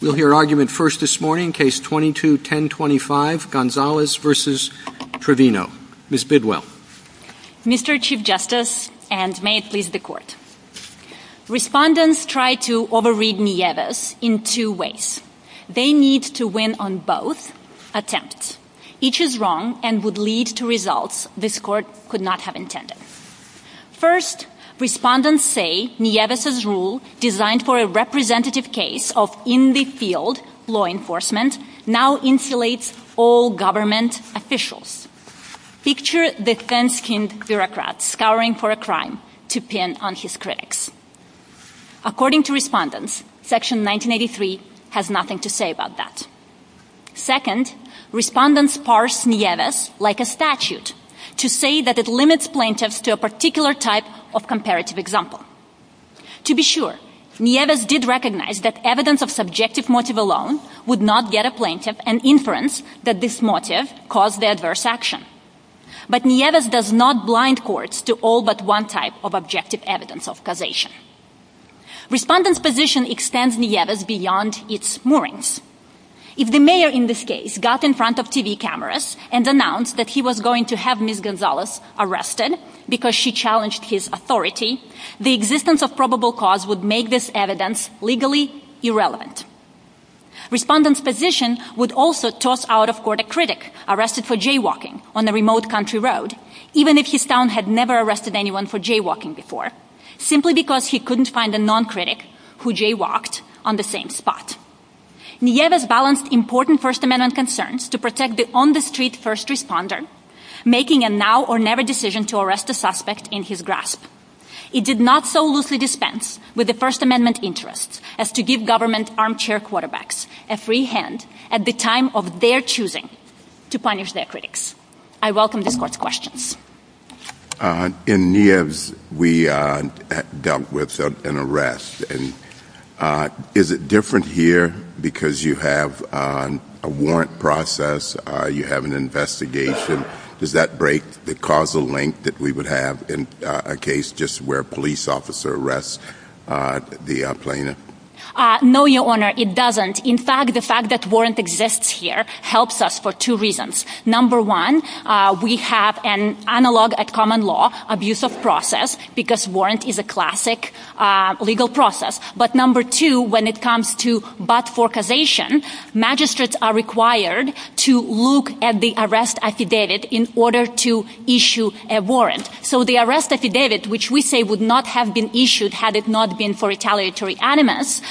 We'll hear argument first this morning, Case 22-1025, Gonzalez v. Trevino. Ms. Bidwell. Mr. Chief Justice, and may it please the Court, Respondents try to overread Nieves in two ways. They need to win on both attempts. Each is wrong and would lead to results this Court could not have intended. First, Respondents say Nieves' rule, designed for a representative case of in-the-field law enforcement, now insulates all government officials. Picture defense-skinned bureaucrats scouring for a crime to pin on his critics. According to Respondents, Section 1983 has nothing to say about that. Second, Respondents parse Nieves like a statute to say that it limits plaintiffs to a particular type of comparative example. To be sure, Nieves did recognize that evidence of subjective motive alone would not get a plaintiff an inference that this motive caused the adverse action. But Nieves does not blind courts to all but one type of objective evidence of causation. Respondents' position extends Nieves beyond its moorings. If the mayor in this case got in front of TV cameras and announced that he was going to have Ms. Gonzalez arrested because she challenged his authority, the existence of probable cause would make this evidence legally irrelevant. Respondents' position would also toss out of court a critic arrested for jaywalking on a remote country road, even if his town had never arrested anyone for jaywalking before, simply because he couldn't find a non-critic who jaywalked on the same spot. Nieves balanced important First Amendment concerns to protect the on-the-street first responder, making a now-or-never decision to arrest the suspect in his grasp. It did not so loosely dispense with the First Amendment interests as to give government armchair quarterbacks a free hand at the time of their choosing to punish their critics. I welcome this court's questions. In Nieves, we dealt with an arrest. Is it different here because you have a warrant process, you have an investigation? Does that break the causal link that we would have in a case just where a police officer arrests the plaintiff? No, Your Honor, it doesn't. In fact, the fact that warrant exists here helps us for two reasons. Number one, we have an analog at common law abuse of process because warrant is a classic legal process. But number two, when it comes to but-for causation, magistrates are required to look at the arrest affidavit in order to issue a warrant. So the arrest affidavit, which we say would not have been issued had it not been for retaliatory animus,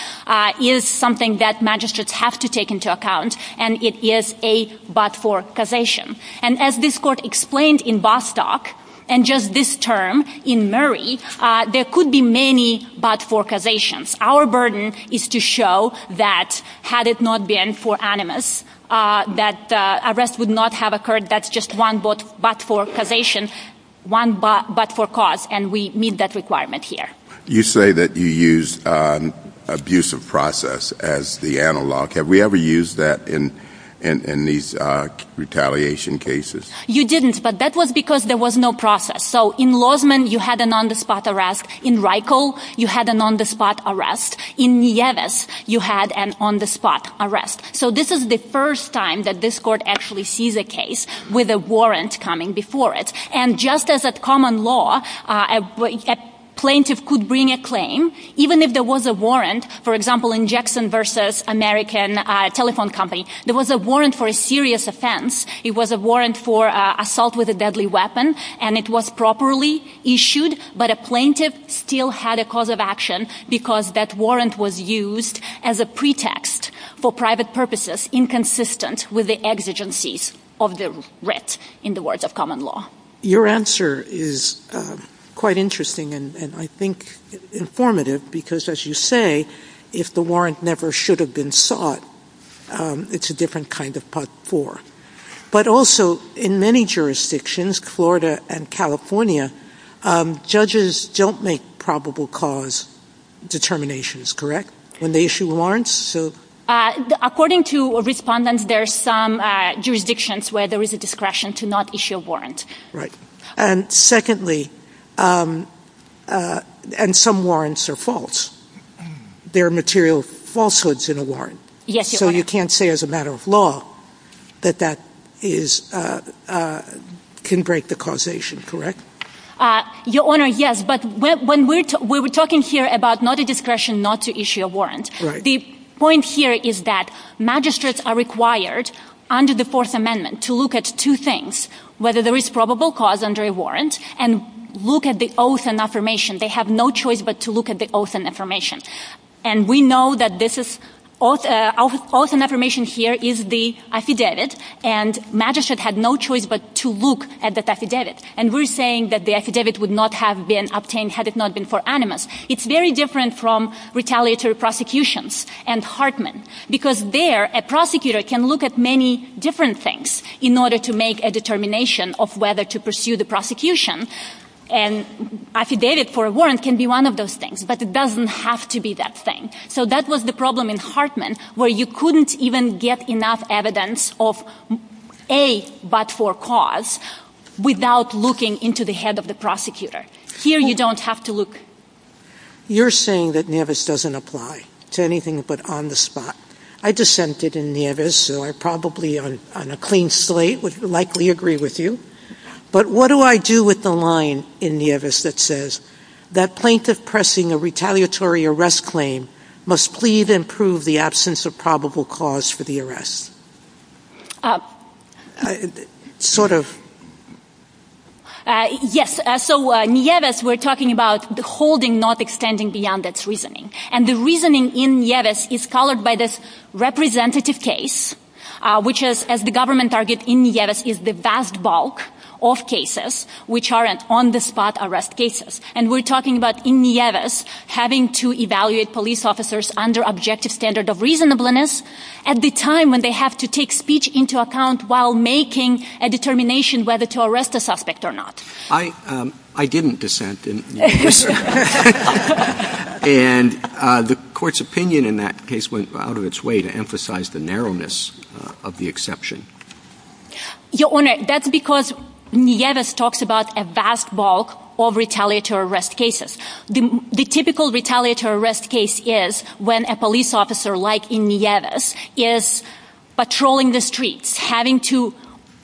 is something that magistrates have to take into account, and it is a but-for causation. And as this court explained in Bostock and just this term in Murray, there could be many but-for causations. Our burden is to show that had it not been for animus, that the arrest would not have occurred. That's just one but-for causation, one but-for cause, and we meet that requirement here. You say that you use abuse of process as the analog. Have we ever used that in these retaliation cases? You didn't, but that was because there was no process. So in Lozman, you had an on-the-spot arrest. In Reichel, you had an on-the-spot arrest. In Nieves, you had an on-the-spot arrest. So this is the first time that this court actually sees a case with a warrant coming before it. And just as a common law, a plaintiff could bring a claim, even if there was a warrant, for example, in Jackson v. American Telephone Company, there was a warrant for a serious offense. It was a warrant for assault with a deadly weapon, and it was properly issued, but a plaintiff still had a cause of action because that warrant was used as a pretext for private purposes inconsistent with the exigencies of the writ in the words of common law. Your answer is quite interesting and I think informative because, as you say, if the warrant never should have been sought, it's a different kind of part four. But also, in many jurisdictions, Florida and California, judges don't make probable cause determinations, correct? When they issue warrants? According to respondents, there are some jurisdictions where there is a discretion to not issue a warrant. Right. And secondly, and some warrants are false. There are material falsehoods in a warrant. Yes, Your Honor. So you can't say as a matter of law that that can break the causation, correct? Your Honor, yes, but we were talking here about not a discretion not to issue a warrant. The point here is that magistrates are required under the Fourth Amendment to look at two things, whether there is probable cause under a warrant, and look at the oath and affirmation. They have no choice but to look at the oath and affirmation. And we know that the oath and affirmation here is the affidavit, and magistrates have no choice but to look at the affidavit. And we're saying that the affidavit would not have been obtained had it not been for animus. It's very different from retaliatory prosecutions and Hartman, because there a prosecutor can look at many different things in order to make a determination of whether to pursue the prosecution. And affidavit for a warrant can be one of those things, but it doesn't have to be that thing. So that was the problem in Hartman, where you couldn't even get enough evidence of A, but for cause, without looking into the head of the prosecutor. Here you don't have to look. You're saying that Nevis doesn't apply to anything but on the spot. I dissented in Nevis, so I probably on a clean slate would likely agree with you. But what do I do with the line in Nevis that says, that plaintiff pressing a retaliatory arrest claim must plead and prove the absence of probable cause for the arrest? Yes, so in Nevis we're talking about the holding not extending beyond its reasoning. And the reasoning in Nevis is colored by this representative case, which is, as the government argued, in Nevis is the vast bulk of cases which are on the spot arrest cases. And we're talking about in Nevis having to evaluate police officers under objective standard of reasonableness at the time when they have to take speech into account while making a determination whether to arrest the suspect or not. I didn't dissent in Nevis. And the court's opinion in that case went out of its way to emphasize the narrowness of the exception. Your Honor, that's because Nevis talks about a vast bulk of retaliatory arrest cases. The typical retaliatory arrest case is when a police officer, like in Nevis, is patrolling the streets, having to,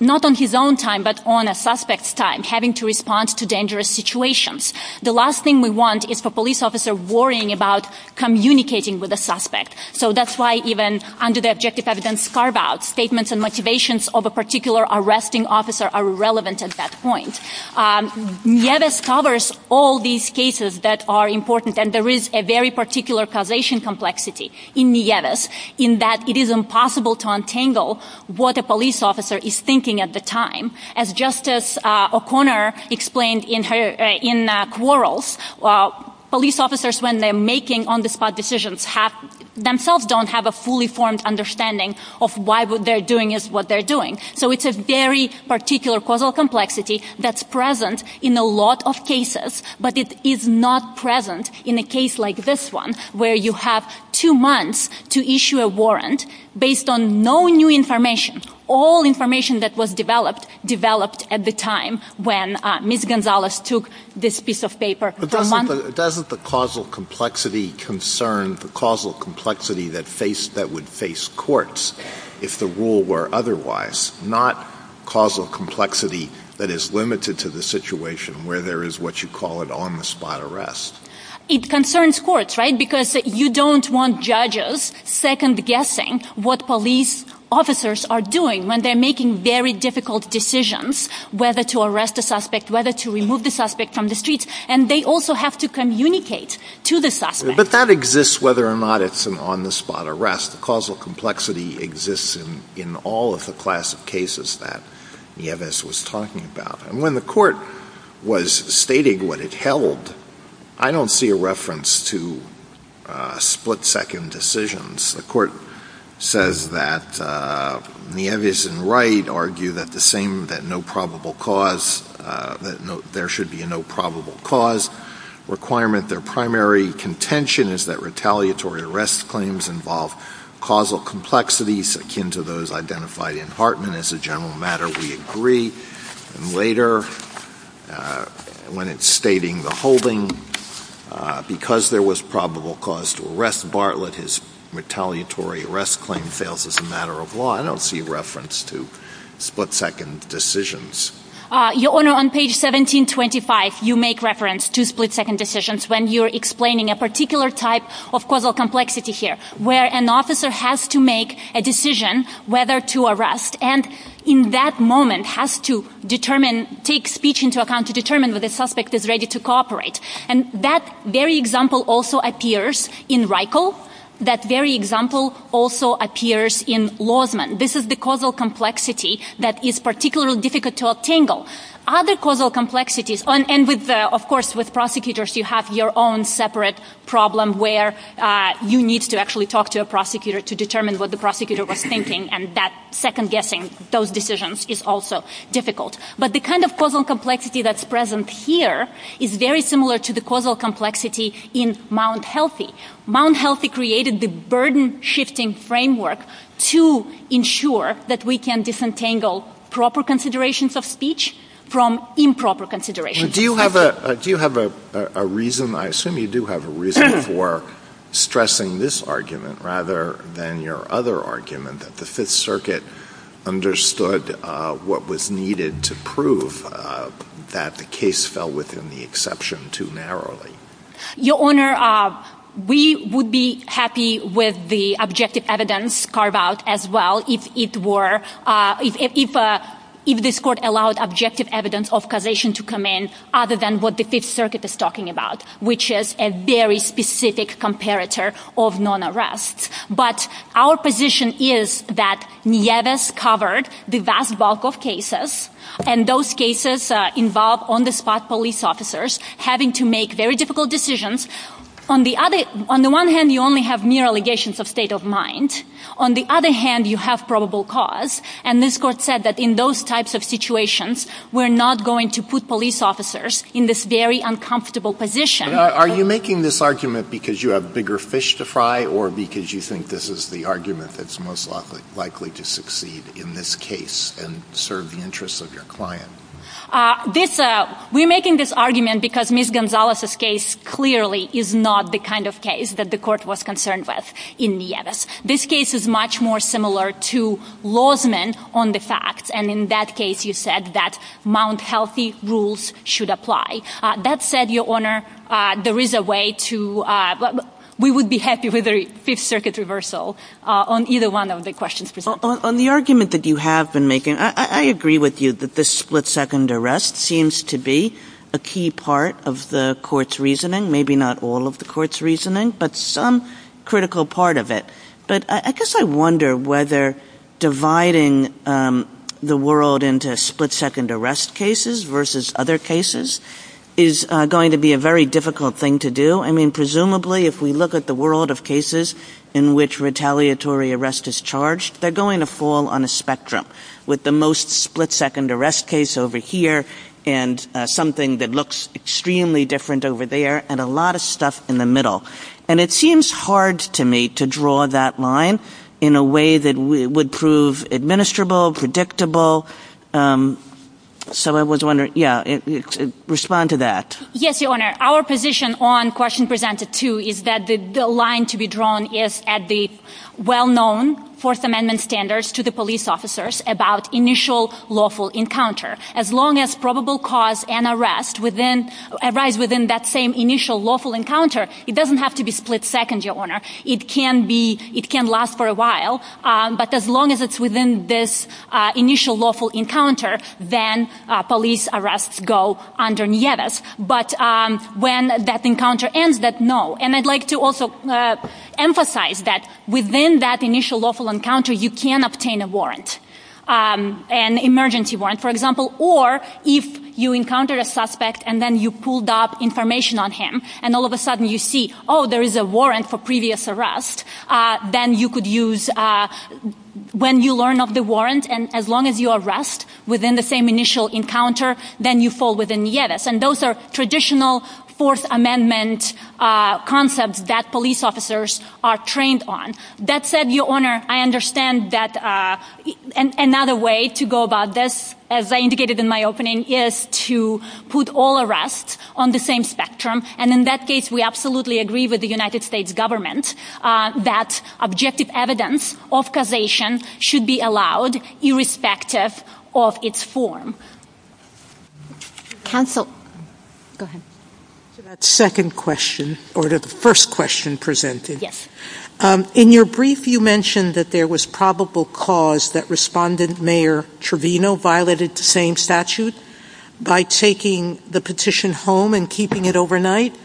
not on his own time, but on a suspect's time, having to respond to dangerous situations. The last thing we want is for a police officer worrying about communicating with a suspect. So that's why even under the objective evidence carve-outs, statements and motivations of a particular arresting officer are relevant at that point. Nevis covers all these cases that are important. And there is a very particular causation complexity in Nevis, in that it is impossible to untangle what a police officer is thinking at the time. As Justice O'Connor explained in her quarrels, police officers, when they're making on-the-spot decisions, themselves don't have a fully formed understanding of why what they're doing is what they're doing. So it's a very particular causal complexity that's present in a lot of cases, but it is not present in a case like this one, where you have two months to issue a warrant based on no new information. All information that was developed, developed at the time when Ms. Gonzalez took this piece of paper. Doesn't the causal complexity concern the causal complexity that would face courts, if the rule were otherwise, not causal complexity that is limited to the situation where there is what you call an on-the-spot arrest? It concerns courts, right? Because you don't want judges second-guessing what police officers are doing when they're making very difficult decisions, whether to arrest a suspect, whether to remove the suspect from the streets. And they also have to communicate to the suspect. But that exists whether or not it's an on-the-spot arrest. The causal complexity exists in all of the classic cases that Nevis was talking about. When the court was stating what it held, I don't see a reference to split-second decisions. The court says that Nevis and Wright argue that there should be no probable cause requirement. Their primary contention is that retaliatory arrest claims involve causal complexities akin to those identified in Hartman as a general matter. And later, when it's stating the holding, because there was probable cause to arrest Bartlett, his retaliatory arrest claim fails as a matter of law. I don't see reference to split-second decisions. Your Honor, on page 1725, you make reference to split-second decisions when you're explaining a particular type of causal complexity here, and in that moment has to take speech into account to determine whether the suspect is ready to cooperate. And that very example also appears in Reichel. That very example also appears in Lozman. This is the causal complexity that is particularly difficult to untangle. Other causal complexities, and of course with prosecutors, you have your own separate problem where you need to actually talk to a prosecutor to determine what the prosecutor was thinking, and that second-guessing those decisions is also difficult. But the kind of causal complexity that's present here is very similar to the causal complexity in Mount Healthy. Mount Healthy created the burden-shifting framework to ensure that we can disentangle proper considerations of speech from improper considerations. Do you have a reason? I assume you do have a reason for stressing this argument rather than your other argument that the Fifth Circuit understood what was needed to prove that the case fell within the exception too narrowly. Your Honor, we would be happy with the objective evidence carved out as well if this court allowed objective evidence of causation to come in other than what the Fifth Circuit is talking about, which is a very specific comparator of non-arrests. But our position is that Nieves covered the vast bulk of cases, and those cases involve on-the-spot police officers having to make very difficult decisions. On the one hand, you only have mere allegations of state of mind. On the other hand, you have probable cause. And this court said that in those types of situations, we're not going to put police officers in this very uncomfortable position. Are you making this argument because you have bigger fish to fry or because you think this is the argument that's most likely to succeed in this case and serve the interests of your client? We're making this argument because Ms. Gonzalez's case clearly is not the kind of case that the court was concerned with in Nieves. This case is much more similar to Lozman on the facts, and in that case you said that Mount Healthy rules should apply. That said, Your Honor, there is a way to – we would be happy with a Fifth Circuit reversal on either one of the questions. On the argument that you have been making, I agree with you that the split-second arrest seems to be a key part of the court's reasoning, maybe not all of the court's reasoning, but some critical part of it. But I guess I wonder whether dividing the world into split-second arrest cases versus other cases is going to be a very difficult thing to do. I mean, presumably, if we look at the world of cases in which retaliatory arrest is charged, they're going to fall on a spectrum with the most split-second arrest case over here and something that looks extremely different over there and a lot of stuff in the middle. And it seems hard to me to draw that line in a way that would prove administrable, predictable. So I was wondering – yeah, respond to that. Yes, Your Honor. Our position on question presented two is that the line to be drawn is at the well-known Fourth Amendment standards to the police officers about initial lawful encounter. As long as probable cause and arrest arise within that same initial lawful encounter, it doesn't have to be split-second, Your Honor. It can be – it can last for a while. But as long as it's within this initial lawful encounter, then police arrests go underneath. But when that encounter ends, then no. And I'd like to also emphasize that within that initial lawful encounter, you can obtain a warrant, an emergency warrant, for example, or if you encounter a suspect and then you pulled up information on him and all of a sudden you see, oh, there is a warrant for previous arrest, then you could use – when you learn of the warrant and as long as you arrest within the same initial encounter, then you fall within the edifice. And those are traditional Fourth Amendment concepts that police officers are trained on. That said, Your Honor, I understand that another way to go about this, as I indicated in my opening, is to put all arrests on the same spectrum and in that case we absolutely agree with the United States government that objective evidence of causation should be allowed irrespective of its form. Counsel. Go ahead. So that second question, or the first question presented. Yes. In your brief, you mentioned that there was probable cause that Respondent Mayor Trevino violated the same statute by taking the petition home and keeping it overnight.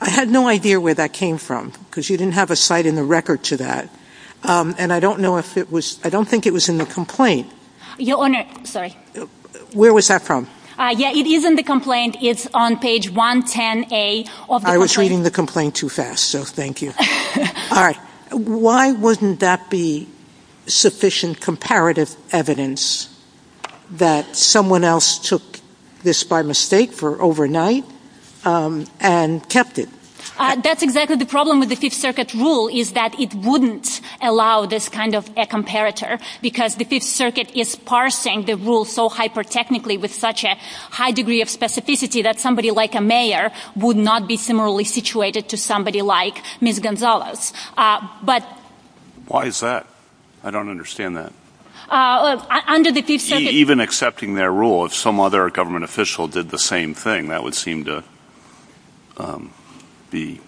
I had no idea where that came from because you didn't have a site in the record to that. And I don't know if it was – I don't think it was in the complaint. Your Honor, sorry. Where was that from? Yeah, it is in the complaint. It's on page 110A of the complaint. I was reading the complaint too fast, so thank you. All right. Why wouldn't that be sufficient comparative evidence that someone else took this by mistake for overnight and kept it? That's exactly the problem with the Fifth Circuit's rule is that it wouldn't allow this kind of a comparator because the Fifth Circuit is parsing the rule so hyper-technically would not be similarly situated to somebody like Ms. Gonzalez. Why is that? I don't understand that. Under the Fifth Circuit – Even accepting their rule, if some other government official did the same thing, that would seem to be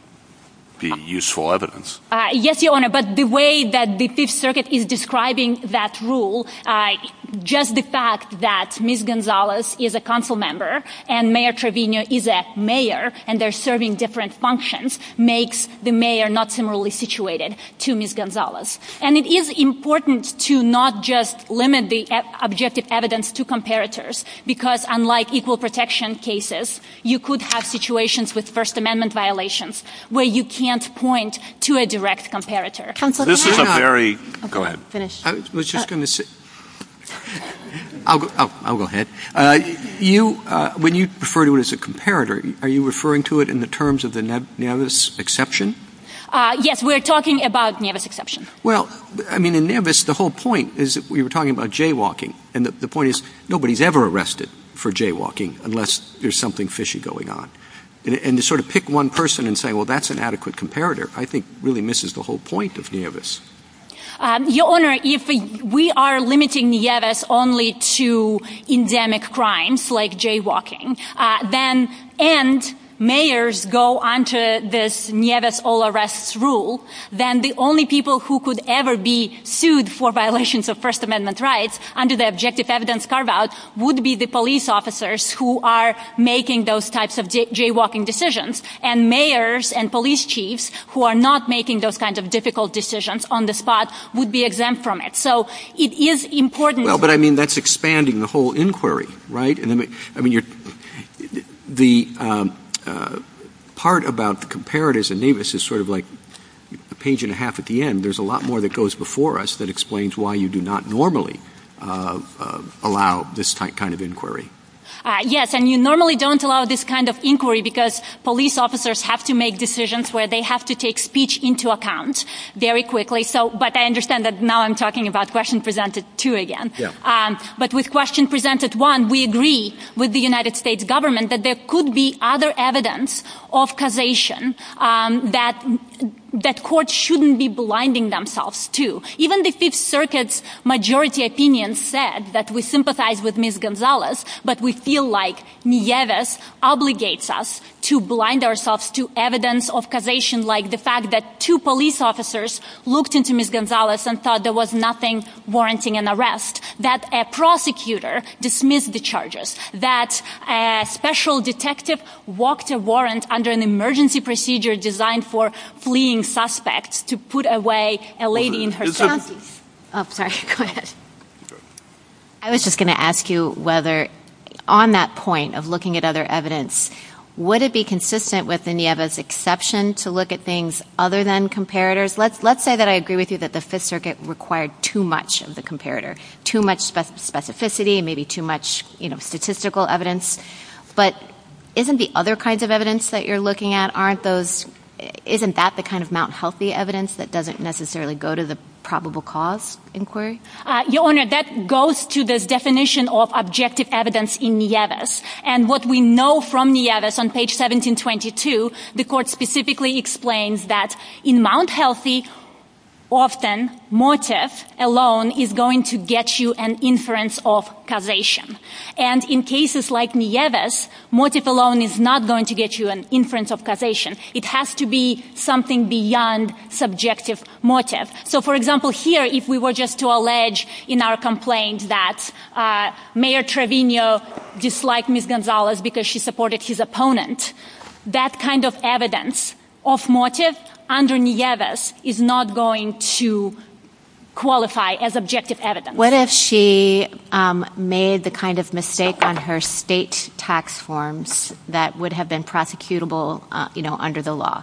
useful evidence. Yes, Your Honor, but the way that the Fifth Circuit is describing that rule, just the fact that Ms. Gonzalez is a council member and Mayor Trevino is a mayor and they're serving different functions makes the mayor not similarly situated to Ms. Gonzalez. And it is important to not just limit the objective evidence to comparators because unlike equal protection cases, you could have situations with First Amendment violations where you can't point to a direct comparator. Go ahead. I was just going to say – I'll go ahead. When you refer to it as a comparator, are you referring to it in the terms of the Navis exception? Yes, we're talking about Navis exception. Well, I mean, in Navis, the whole point is we were talking about jaywalking and the point is nobody's ever arrested for jaywalking unless there's something fishy going on. And to sort of pick one person and say, well, that's an adequate comparator, I think really misses the whole point of Navis. Your Honor, if we are limiting Navis only to endemic crimes like jaywalking and mayors go under this Navis all arrests rule, then the only people who could ever be sued for violations of First Amendment rights under the objective evidence carve-out would be the police officers who are making those types of jaywalking decisions and mayors and police chiefs who are not making those kinds of difficult decisions on the spot would be exempt from it. So it is important. Well, but I mean, that's expanding the whole inquiry, right? I mean, the part about the comparators in Navis is sort of like a page and a half at the end. There's a lot more that goes before us that explains why you do not normally allow this type of inquiry. Yes, and you normally don't allow this kind of inquiry because police officers have to make decisions where they have to take speech into account very quickly. But I understand that now I'm talking about Question Presented 2 again. But with Question Presented 1, we agree with the United States government that there could be other evidence of causation that courts shouldn't be blinding themselves to. Even the Fifth Circuit's majority opinion said that we sympathize with Ms. Gonzalez, but we feel like Nieves obligates us to blind ourselves to evidence of causation like the fact that two police officers looked into Ms. Gonzalez and thought there was nothing warranting an arrest, that a prosecutor dismissed the charges, that a special detective walked a warrant under an emergency procedure designed for fleeing suspects to put away a lady in her 70s. I was just going to ask you whether on that point of looking at other evidence, would it be consistent with Nieves' exception to look at things other than comparators? Let's say that I agree with you that the Fifth Circuit required too much of the comparator, too much specificity and maybe too much statistical evidence. But isn't the other kinds of evidence that you're looking at, isn't that the kind of Mount Healthy evidence that doesn't necessarily go to the probable cause inquiry? Your Honor, that goes to the definition of objective evidence in Nieves. And what we know from Nieves on page 1722, the court specifically explains that in Mount Healthy, often motif alone is going to get you an inference of causation. And in cases like Nieves, motif alone is not going to get you an inference of causation. It has to be something beyond subjective motif. So for example here, if we were just to allege in our complaint that Mayor Trevino disliked Ms. Gonzalez because she supported his opponent, that kind of evidence of motif under Nieves is not going to qualify as objective evidence. What if she made the kind of mistake on her state tax forms that would have been prosecutable under the law?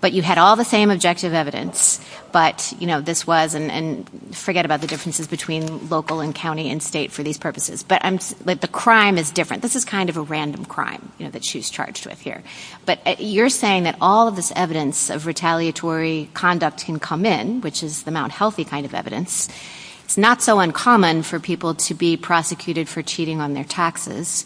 But you had all the same objective evidence, but this was, and forget about the differences between local and county and state for these purposes, but the crime is different. This is kind of a random crime that she's charged with here. But you're saying that all of this evidence of retaliatory conduct can come in, which is the Mount Healthy kind of evidence. It's not so uncommon for people to be prosecuted for cheating on their taxes.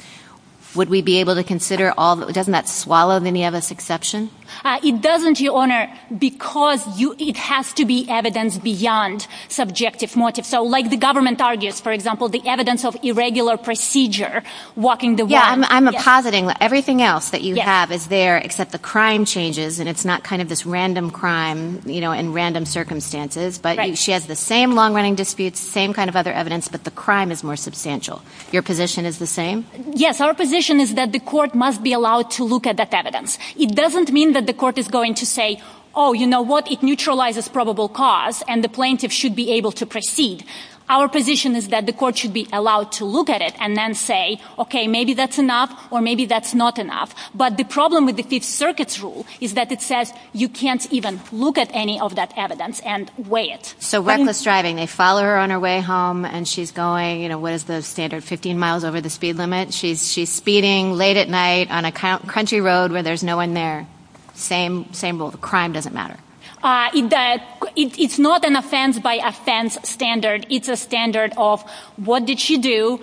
Would we be able to consider all, doesn't that swallow any of this exception? It doesn't, Your Honor, because it has to be evidence beyond subjective motif. So like the government argues, for example, the evidence of irregular procedure, walking the walk. Yeah, I'm positing that everything else that you have is there except the crime changes, and it's not kind of this random crime, you know, in random circumstances. But she has the same long-running disputes, same kind of other evidence, but the crime is more substantial. Your position is the same? Yes, our position is that the court must be allowed to look at that evidence. It doesn't mean that the court is going to say, oh, you know what, it neutralizes probable cause, and the plaintiff should be able to proceed. Our position is that the court should be allowed to look at it and then say, okay, maybe that's enough or maybe that's not enough. But the problem with the Fifth Circuit's rule is that it says you can't even look at any of that evidence and weigh it. So Wes was driving. They follow her on her way home, and she's going, you know, what is the standard, 15 miles over the speed limit? She's speeding late at night on a country road where there's no one there. Same crime doesn't matter. It's not an offense by offense standard. It's a standard of what did she do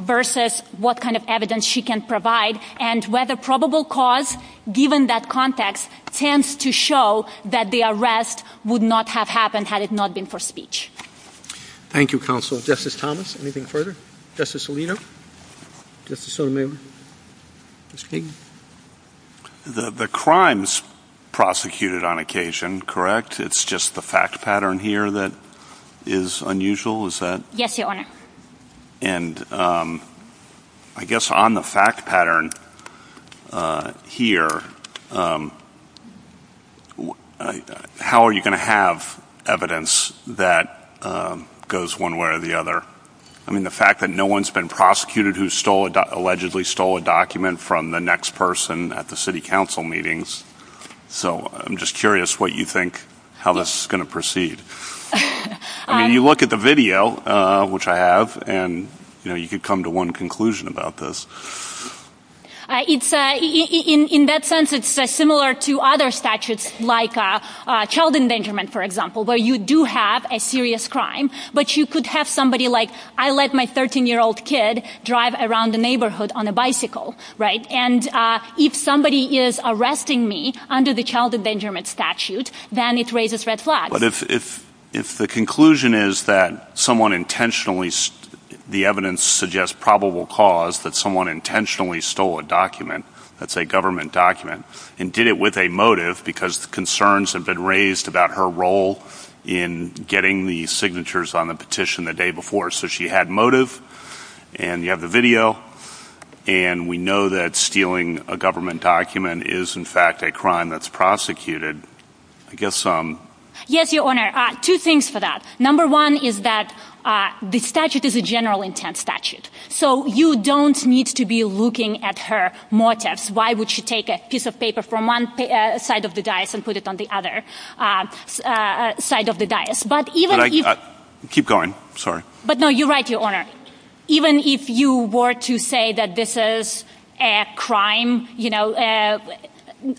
versus what kind of evidence she can provide. And whether probable cause, given that context, tends to show that the arrest would not have happened had it not been for speech. Thank you, Counsel. Justice Thomas, anything further? Justice Alito? Justice Odom? The crime's prosecuted on occasion, correct? It's just the fact pattern here that is unusual, is that? Yes, Your Honor. And I guess on the fact pattern here, how are you going to have evidence that goes one way or the other? I mean, the fact that no one's been prosecuted who allegedly stole a document from the next person at the city council meetings. So I'm just curious what you think, how this is going to proceed. I mean, you look at the video, which I have, and you could come to one conclusion about this. In that sense, it's similar to other statutes like child endangerment, for example, where you do have a serious crime, but you could have somebody like, I let my 13-year-old kid drive around the neighborhood on a bicycle, right? And if somebody is arresting me under the child endangerment statute, then it raises red flags. But if the conclusion is that someone intentionally, the evidence suggests probable cause that someone intentionally stole a document that's a government document and did it with a motive because concerns have been raised about her role in getting the signatures on the petition the day before. So she had motive, and you have the video, and we know that stealing a government document is, in fact, a crime that's prosecuted. Yes, Your Honor. Two things for that. Number one is that the statute is a general intent statute. So you don't need to be looking at her motives. Why would she take a piece of paper from one side of the dais and put it on the other side of the dais? Keep going. Sorry. But no, you're right, Your Honor. Even if you were to say that this is a crime,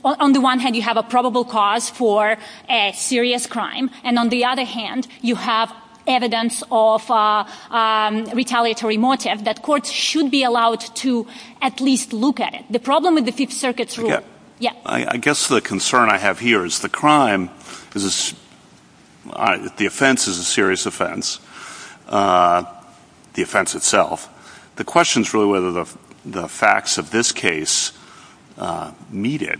on the one hand, you have a probable cause for a serious crime, and on the other hand, you have evidence of retaliatory motive, that courts should be allowed to at least look at it. The problem with the Fifth Circuit's rule... I guess the concern I have here is the crime, the offense is a serious offense, the offense itself. The question is really whether the facts of this case meet it.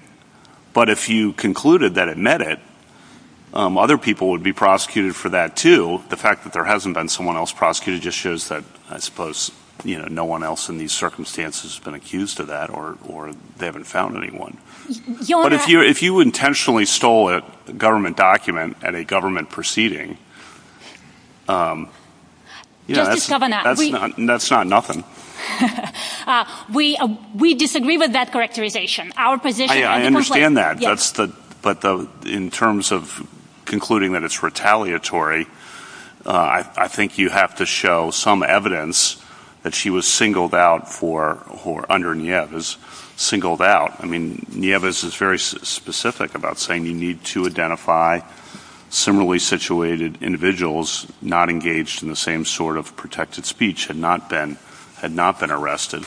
But if you concluded that it met it, other people would be prosecuted for that, too. The fact that there hasn't been someone else prosecuted just shows that, I suppose, no one else in these circumstances has been accused of that, or they haven't found anyone. But if you intentionally stole a government document at a government proceeding... Justice Kavanaugh, we... That's not nothing. We disagree with that characterization. Our position... I understand that, but in terms of concluding that it's retaliatory, I think you have to show some evidence that she was singled out for, or under Nieves, singled out. I mean, Nieves is very specific about saying you need to identify similarly situated individuals who were not engaged in the same sort of protected speech, had not been arrested.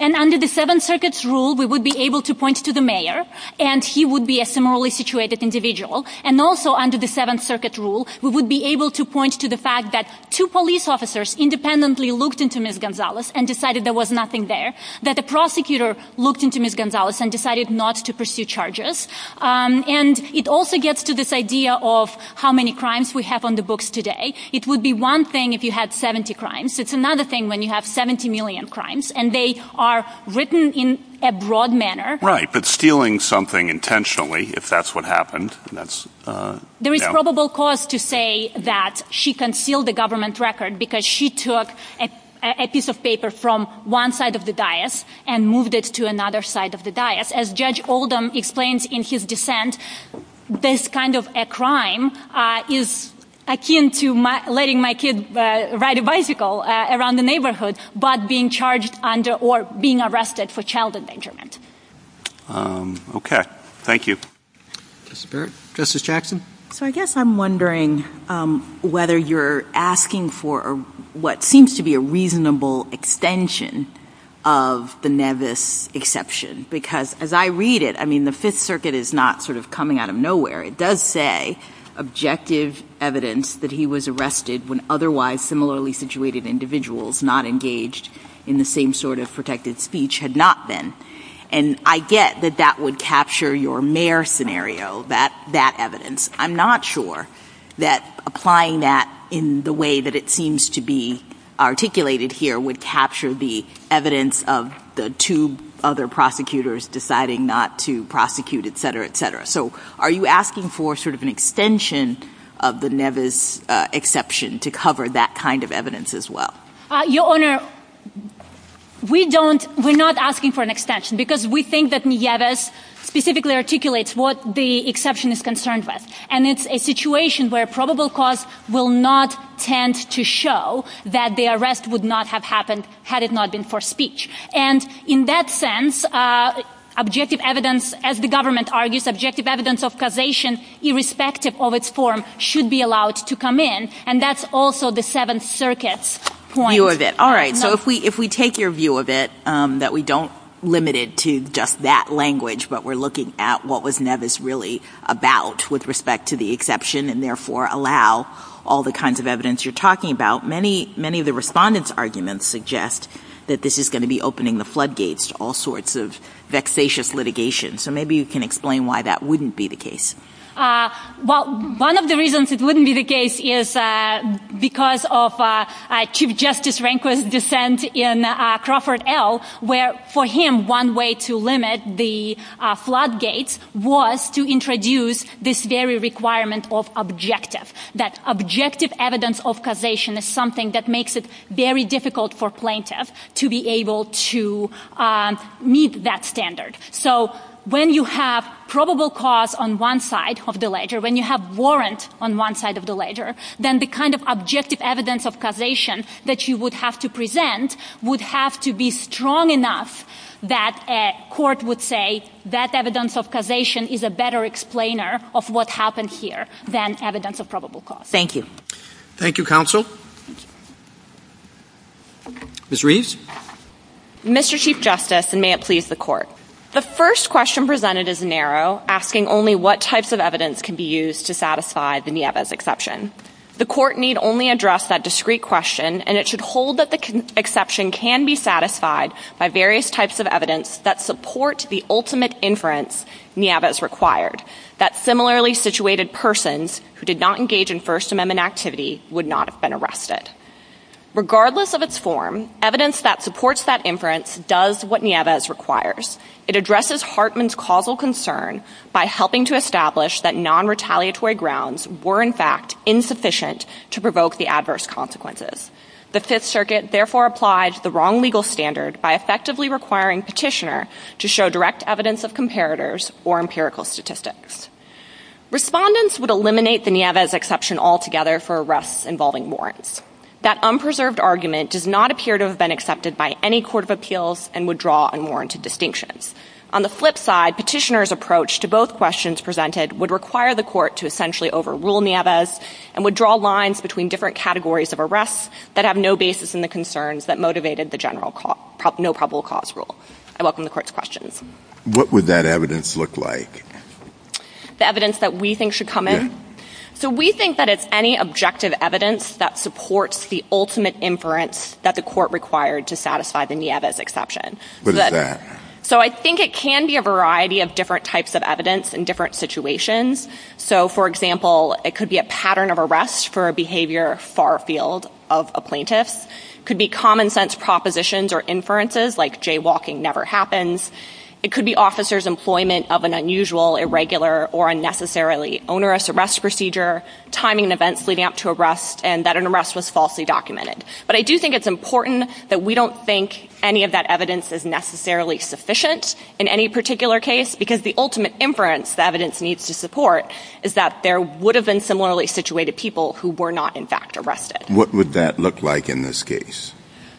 And under the Seventh Circuit's rule, we would be able to point to the mayor, and he would be a similarly situated individual. And also under the Seventh Circuit's rule, we would be able to point to the fact that two police officers independently looked into Ms. Gonzalez and decided there was nothing there. That the prosecutor looked into Ms. Gonzalez and decided not to pursue charges. And it also gets to this idea of how many crimes we have on the books today. It would be one thing if you had 70 crimes. It's another thing when you have 70 million crimes. And they are written in a broad manner. Right, but stealing something intentionally, if that's what happened, that's... There is probable cause to say that she concealed a government record because she took a piece of paper from one side of the dais and moved it to another side of the dais. As Judge Oldham explained in his defense, this kind of a crime is akin to letting my kid ride a bicycle around the neighborhood, but being charged under or being arrested for child endangerment. Okay, thank you. Justice Baird? Justice Jackson? So I guess I'm wondering whether you're asking for what seems to be a reasonable extension of the Nevis exception. Because as I read it, I mean the Fifth Circuit is not sort of coming out of nowhere. It does say objective evidence that he was arrested when otherwise similarly situated individuals not engaged in the same sort of protective speech had not been. And I get that that would capture your Mare scenario, that evidence. I'm not sure that applying that in the way that it seems to be articulated here would capture the evidence of the two other prosecutors deciding not to prosecute, etc., etc. So are you asking for sort of an extension of the Nevis exception to cover that kind of evidence as well? Your Honor, we're not asking for an extension because we think that Nevis specifically articulates what the exception is concerned with. And it's a situation where probable cause will not tend to show that the arrest would not have happened had it not been for speech. And in that sense, objective evidence, as the government argues, objective evidence of causation irrespective of its form should be allowed to come in. And that's also the Seventh Circuit's point. View of it. All right. So if we take your view of it, that we don't limit it to just that language, but we're looking at what was Nevis really about with respect to the exception, and therefore allow all the kinds of evidence you're talking about, many of the respondents' arguments suggest that this is going to be opening the floodgates to all sorts of vexatious litigation. So maybe you can explain why that wouldn't be the case. Well, one of the reasons it wouldn't be the case is because of Chief Justice Rehnquist's dissent in Crawford L. where, for him, one way to limit the floodgates was to introduce this very requirement of objective, that objective evidence of causation is something that makes it very difficult for plaintiffs to be able to meet that standard. So when you have probable cause on one side of the ledger, when you have warrant on one side of the ledger, then the kind of objective evidence of causation that you would have to present would have to be strong enough that a court would say that evidence of causation is a better explainer of what happened here than evidence of probable cause. Thank you. Thank you, Counsel. Ms. Reese? Mr. Chief Justice, and may it please the Court, the first question presented is narrow, asking only what types of evidence can be used to satisfy the Nevis exception. The Court need only address that discrete question, and it should hold that the exception can be satisfied by various types of evidence that support the ultimate inference Nevis required, that similarly situated persons who did not engage in First Amendment activity would not have been arrested. Regardless of its form, evidence that supports that inference does what Nevis requires. It addresses Hartman's causal concern by helping to establish that non-retaliatory grounds were in fact insufficient to provoke the adverse consequences. The Fifth Circuit therefore applies the wrong legal standard by effectively requiring Petitioner to show direct evidence of comparators or empirical statistics. Respondents would eliminate the Nevis exception altogether for arrests involving warrants. That unpreserved argument does not appear to have been accepted by any court of appeals and would draw unwarranted distinction. On the flip side, Petitioner's approach to both questions presented would require the Court to essentially overrule Nevis and would draw lines between different categories of arrests that have no basis in the concerns that motivated the general no probable cause rule. I welcome the Court's questions. What would that evidence look like? The evidence that we think should come in? So we think that it's any objective evidence that supports the ultimate inference that the Court required to satisfy the Nevis exception. What is that? So I think it can be a variety of different types of evidence in different situations. So for example, it could be a pattern of arrest for a behavior far afield of a plaintiff. It could be common sense propositions or inferences like jaywalking never happens. It could be officers' employment of an unusual, irregular, or unnecessarily onerous arrest procedure, timing events leading up to arrests, and that an arrest was falsely documented. But I do think it's important that we don't think any of that evidence is necessarily sufficient in any particular case because the ultimate inference the evidence needs to support is that there would have been similarly situated people who were not in fact arrested. What would that look like in this case?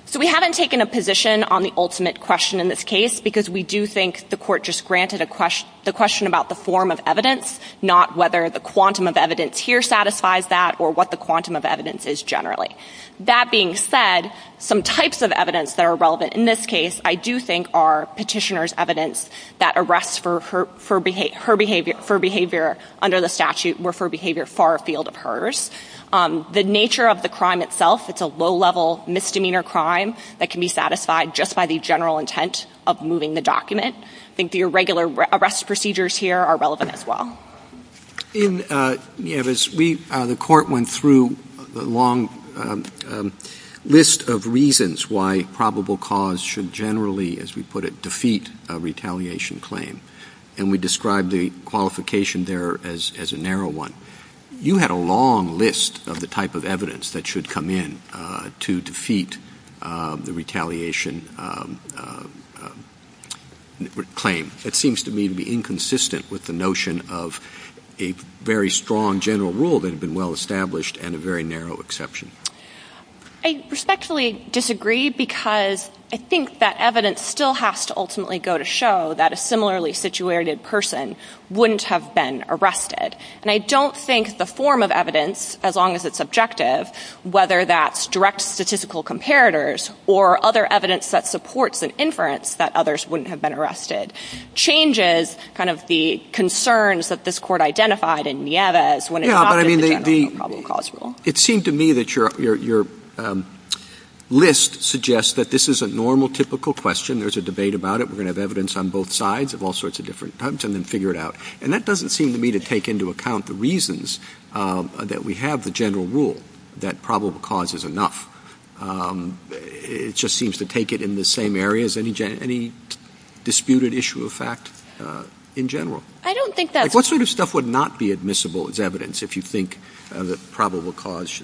So we haven't taken a position on the ultimate question in this case because we do think the Court just granted the question about the form of evidence, not whether the quantum of evidence here satisfies that or what the quantum of evidence is generally. That being said, some types of evidence that are relevant in this case, I do think, are petitioner's evidence that arrests for behavior under the statute were for behavior far afield of hers. The nature of the crime itself, it's a low-level misdemeanor crime that can be satisfied just by the general intent of moving the document. I think the irregular arrest procedures here are relevant as well. The Court went through a long list of reasons why probable cause should generally, as we put it, defeat a retaliation claim. And we described the qualification there as a narrow one. You had a long list of the type of evidence that should come in to defeat the retaliation claim. That seems to me to be inconsistent with the notion of a very strong general rule that had been well-established and a very narrow exception. I respectfully disagree because I think that evidence still has to ultimately go to show that a similarly situated person wouldn't have been arrested. And I don't think the form of evidence, as long as it's objective, whether that's direct statistical comparators or other evidence that supports an inference that others wouldn't have been arrested, changes the concerns that this Court identified in Nieves when it comes to the general probable cause rule. It seems to me that your list suggests that this is a normal, typical question. There's a debate about it. We're going to have evidence on both sides of all sorts of different points and then figure it out. And that doesn't seem to me to take into account the reasons that we have the general rule that probable cause is enough. It just seems to take it in the same area as any disputed issue of fact in general. What sort of stuff would not be admissible as evidence if you think the probable cause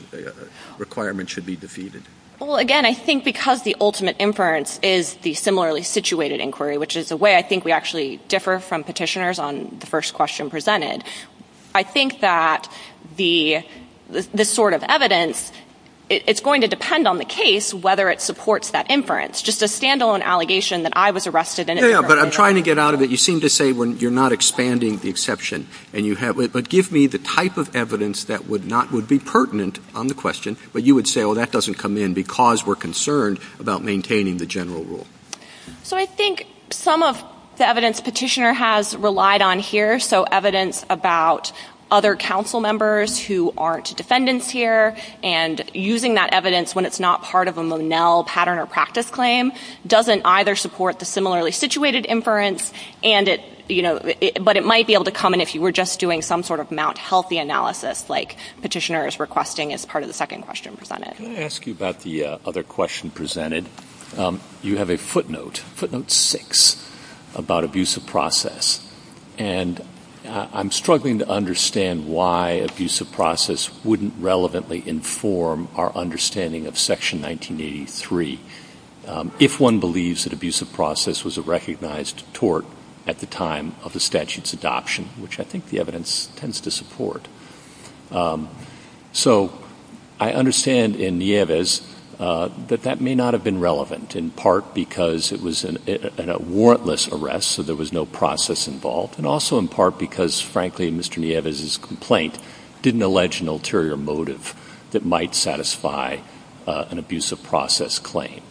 requirement should be defeated? Well, again, I think because the ultimate inference is the similarly situated inquiry, which is the way I think we actually differ from petitioners on the first question presented, I think that this sort of evidence, it's going to depend on the case, whether it supports that inference. Just a stand-alone allegation that I was arrested in a different way. Yeah, but I'm trying to get out of it. You seem to say you're not expanding the exception. But give me the type of evidence that would be pertinent on the question, but you would say, oh, that doesn't come in because we're concerned about maintaining the general rule. So I think some of the evidence petitioner has relied on here, so evidence about other council members who aren't defendants here, and using that evidence when it's not part of a Monell pattern or practice claim, doesn't either support the similarly situated inference, but it might be able to come in if you were just doing some sort of Mount Healthy analysis, like petitioners requesting as part of the second question presented. Let me ask you about the other question presented. You have a footnote, footnote six, about abusive process, and I'm struggling to understand why abusive process wouldn't relevantly inform our understanding of Section 1983, if one believes that abusive process was a recognized tort at the time of the statute's adoption, which I think the evidence tends to support. So I understand in Nieves that that may not have been relevant, in part because it was a warrantless arrest, so there was no process involved, and also in part because, frankly, Mr. Nieves' complaint didn't allege an ulterior motive that might satisfy an abusive process claim.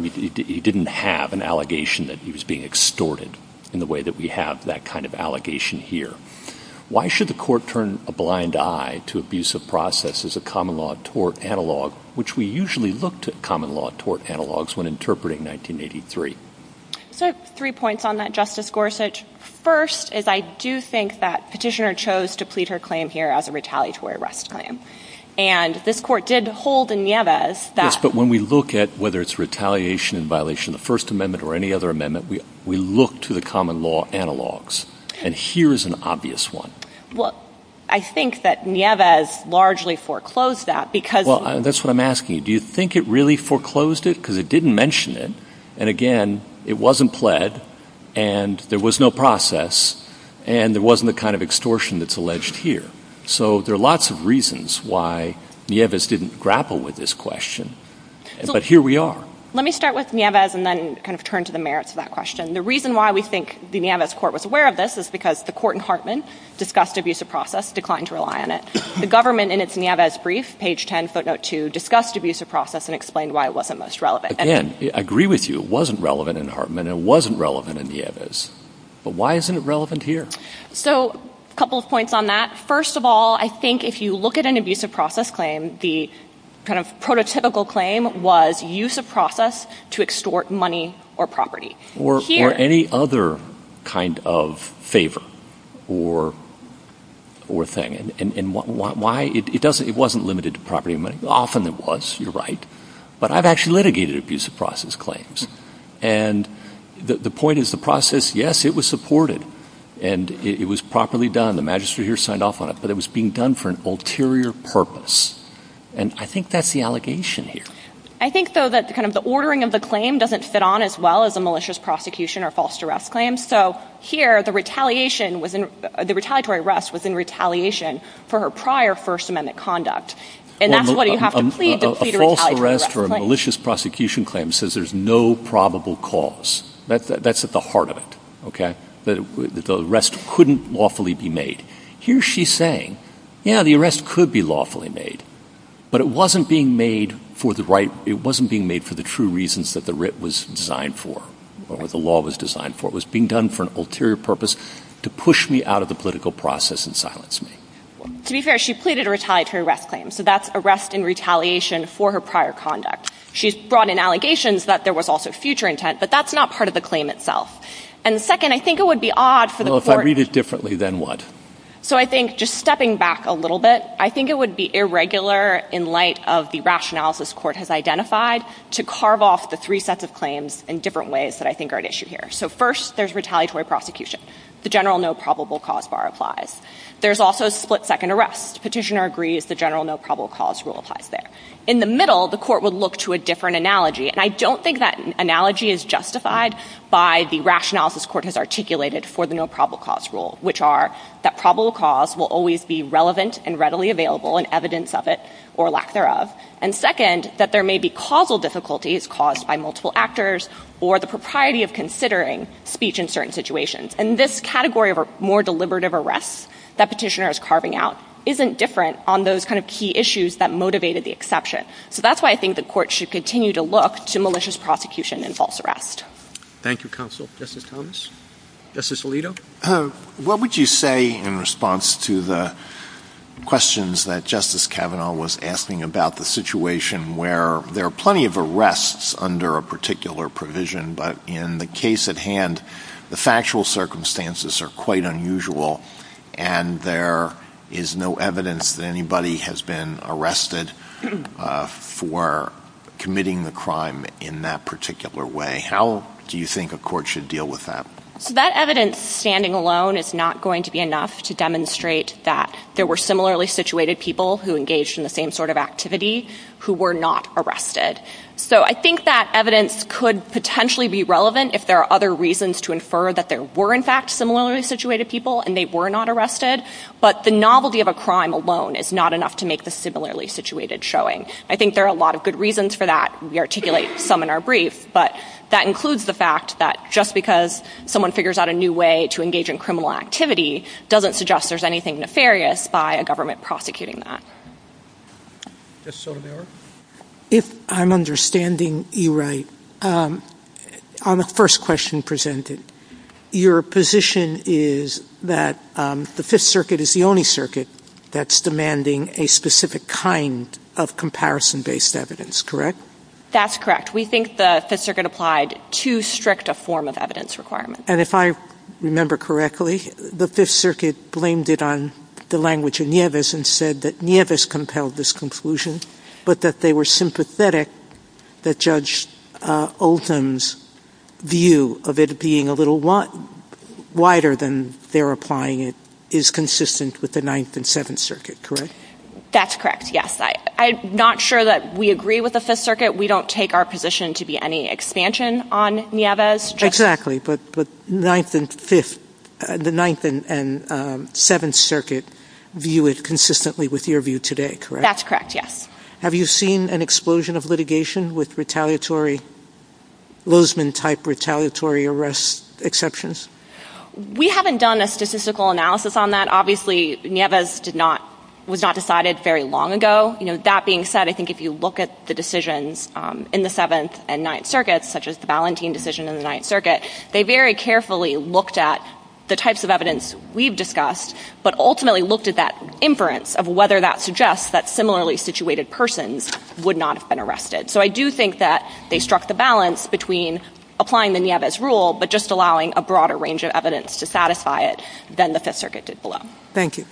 He didn't have an allegation that he was being extorted in the way that we have that kind of allegation here. Why should the court turn a blind eye to abusive process as a common law tort analog, which we usually look to common law tort analogs when interpreting 1983? So three points on that, Justice Gorsuch. First is I do think that petitioner chose to plead her claim here as a retaliatory arrest claim, and this court did hold in Nieves that... Yes, but when we look at whether it's retaliation in violation of the First Amendment or any other amendment, we look to the common law analogs, and here is an obvious one. Well, I think that Nieves largely foreclosed that because... Well, that's what I'm asking you. Do you think it really foreclosed it? Because it didn't mention it, and again, it wasn't pled, and there was no process, and there wasn't the kind of extortion that's alleged here. So there are lots of reasons why Nieves didn't grapple with this question, but here we are. Let me start with Nieves and then kind of turn to the merits of that question. The reason why we think the Nieves court was aware of this is because the court in Hartman discussed abusive process, declined to rely on it. The government in its Nieves brief, page 10, footnote 2, discussed abusive process and explained why it wasn't most relevant. Again, I agree with you. It wasn't relevant in Hartman, and it wasn't relevant in Nieves, but why isn't it relevant here? So a couple of points on that. First of all, I think if you look at an abusive process claim, the kind of prototypical claim was use of process to extort money or property. Or any other kind of favor or thing, and why? It wasn't limited to property and money. Often it was, you're right, but I've actually litigated abusive process claims, and the point is the process, yes, it was supported, and it was properly done. The magistrate here signed off on it, but it was being done for an ulterior purpose, and I think that's the allegation here. I think, though, that the ordering of the claim doesn't fit on as well as a malicious prosecution or false arrest claim, so here the retaliatory arrest was in retaliation for her prior First Amendment conduct, and that's why you have to plead the plea to retaliate. A false arrest or a malicious prosecution claim says there's no probable cause. That's at the heart of it. The arrest couldn't lawfully be made. Here she's saying, yeah, the arrest could be lawfully made, but it wasn't being made for the true reasons that the writ was designed for or the law was designed for. It was being done for an ulterior purpose to push me out of the political process and silence me. To be fair, she pleaded to retaliate her arrest claim, so that's arrest in retaliation for her prior conduct. She's brought in allegations that there was also future intent, but that's not part of the claim itself. And second, I think it would be odd for the court— Well, if I read it differently, then what? So I think, just stepping back a little bit, I think it would be irregular in light of the rationales this court has identified to carve off the three sets of claims in different ways that I think are at issue here. So first, there's retaliatory prosecution. The general no probable cause bar applies. There's also split-second arrest. Petitioner agrees the general no probable cause rule applies there. In the middle, the court would look to a different analogy, and I don't think that analogy is justified by the rationales this court has articulated for the no probable cause rule, which are that probable cause will always be relevant and readily available, and evidence of it, or lack thereof. And second, that there may be causal difficulties caused by multiple actors or the propriety of considering speech in certain situations. And this category of a more deliberative arrest that petitioner is carving out isn't different on those kind of key issues that motivated the exception. So that's why I think the court should continue to look to malicious prosecution and false arrest. Thank you, Counsel. Justice Thomas? Justice Alito? What would you say in response to the questions that Justice Kavanaugh was asking about the situation where there are plenty of arrests under a particular provision, but in the case at hand, the factual circumstances are quite unusual, and there is no evidence that anybody has been arrested for committing the crime in that particular way. How do you think a court should deal with that? That evidence standing alone is not going to be enough to demonstrate that there were similarly situated people who engaged in the same sort of activity who were not arrested. So I think that evidence could potentially be relevant if there are other reasons to infer that there were in fact similarly situated people and they were not arrested, but the novelty of a crime alone is not enough to make the similarly situated showing. I think there are a lot of good reasons for that. We articulate some in our brief, but that includes the fact that just because someone figures out a new way to engage in criminal activity doesn't suggest there's anything nefarious by a government prosecuting that. Just so there. If I'm understanding you right, on the first question presented, your position is that the Fifth Circuit is the only circuit that's demanding a specific kind of comparison-based evidence, correct? That's correct. We think the Fifth Circuit applied too strict a form of evidence requirement. And if I remember correctly, the Fifth Circuit blamed it on the language of Nieves and said that Nieves compelled this conclusion, but that they were sympathetic that Judge Oldham's view of it being a little wider than they're applying it is consistent with the Ninth and Seventh Circuit, correct? That's correct, yes. I'm not sure that we agree with the Fifth Circuit. We don't take our position to be any expansion on Nieves. Exactly, but the Ninth and Seventh Circuit view it consistently with your view today, correct? That's correct, yes. Have you seen an explosion of litigation with Lozman-type retaliatory arrest exceptions? We haven't done a statistical analysis on that. Obviously, Nieves was not decided very long ago. That being said, I think if you look at the decisions in the Seventh and Ninth Circuits, such as the Valentin decision in the Ninth Circuit, they very carefully looked at the types of evidence we've discussed, but ultimately looked at that inference of whether that suggests that similarly situated persons would not have been arrested. So I do think that they struck the balance between applying the Nieves rule but just allowing a broader range of evidence to satisfy it than the Fifth Circuit did below. Thank you.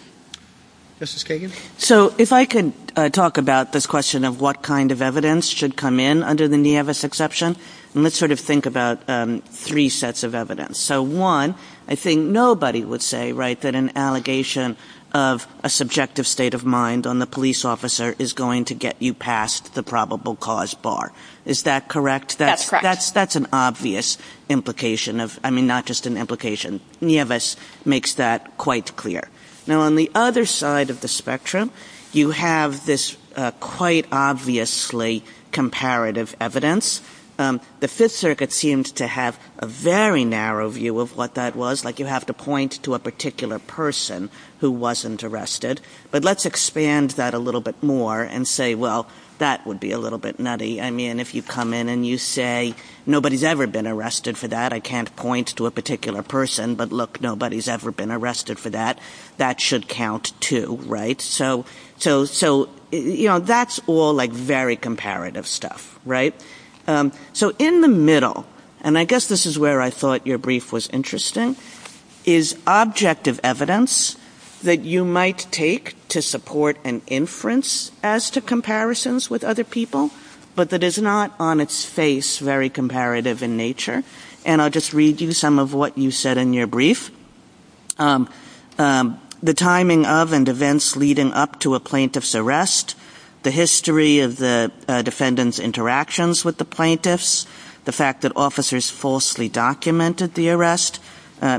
Justice Kagan? So if I could talk about this question of what kind of evidence should come in under the Nieves exception, and let's sort of think about three sets of evidence. So one, I think nobody would say that an allegation of a subjective state of mind on the police officer is going to get you past the probable cause bar. Is that correct? That's correct. That's an obvious implication. I mean, not just an implication. Nieves makes that quite clear. Now on the other side of the spectrum, you have this quite obviously comparative evidence. The Fifth Circuit seems to have a very narrow view of what that was, like you have to point to a particular person who wasn't arrested. But let's expand that a little bit more and say, well, that would be a little bit nutty. I mean, if you come in and you say, nobody's ever been arrested for that, I can't point to a particular person, but look, nobody's ever been arrested for that, that should count too, right? So, you know, that's all like very comparative stuff, right? So in the middle, and I guess this is where I thought your brief was interesting, is objective evidence that you might take to support an inference as to comparisons with other people, but that is not on its face very comparative in nature. And I'll just read you some of what you said in your brief. The timing of and events leading up to a plaintiff's arrest, the history of the defendant's interactions with the plaintiffs, the fact that officers falsely documented the arrest,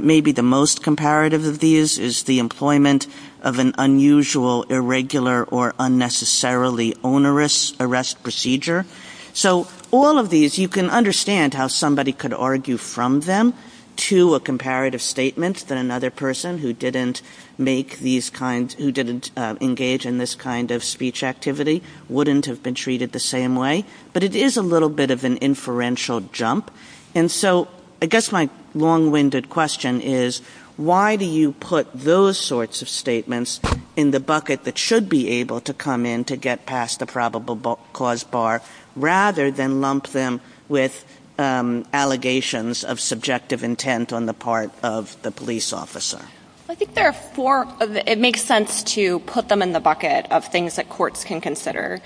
maybe the most comparative of these is the employment of an unusual, irregular, or unnecessarily onerous arrest procedure. So all of these, you can understand how somebody could argue from them to a comparative statement that another person who didn't engage in this kind of speech activity wouldn't have been treated the same way, but it is a little bit of an inferential jump. And so I guess my long-winded question is, why do you put those sorts of statements in the bucket that should be able to come in to get past the probable cause bar, rather than lump them with allegations of subjective intent on the part of the police officer? I think it makes sense to put them in the bucket of things that courts can consider.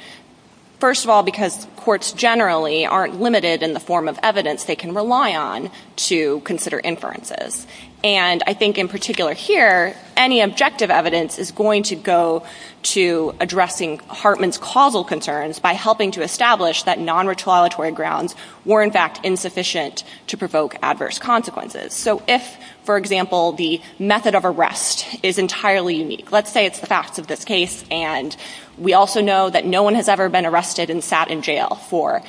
First of all, because courts generally aren't limited in the form of evidence they can rely on to consider inferences. And I think in particular here, any objective evidence is going to go to addressing Hartman's causal concerns by helping to establish that non-retaliatory grounds were in fact insufficient to provoke adverse consequences. So if, for example, the method of arrest is entirely unique, let's say it's the facts of this case, and we also know that no one has ever been arrested and sat in jail for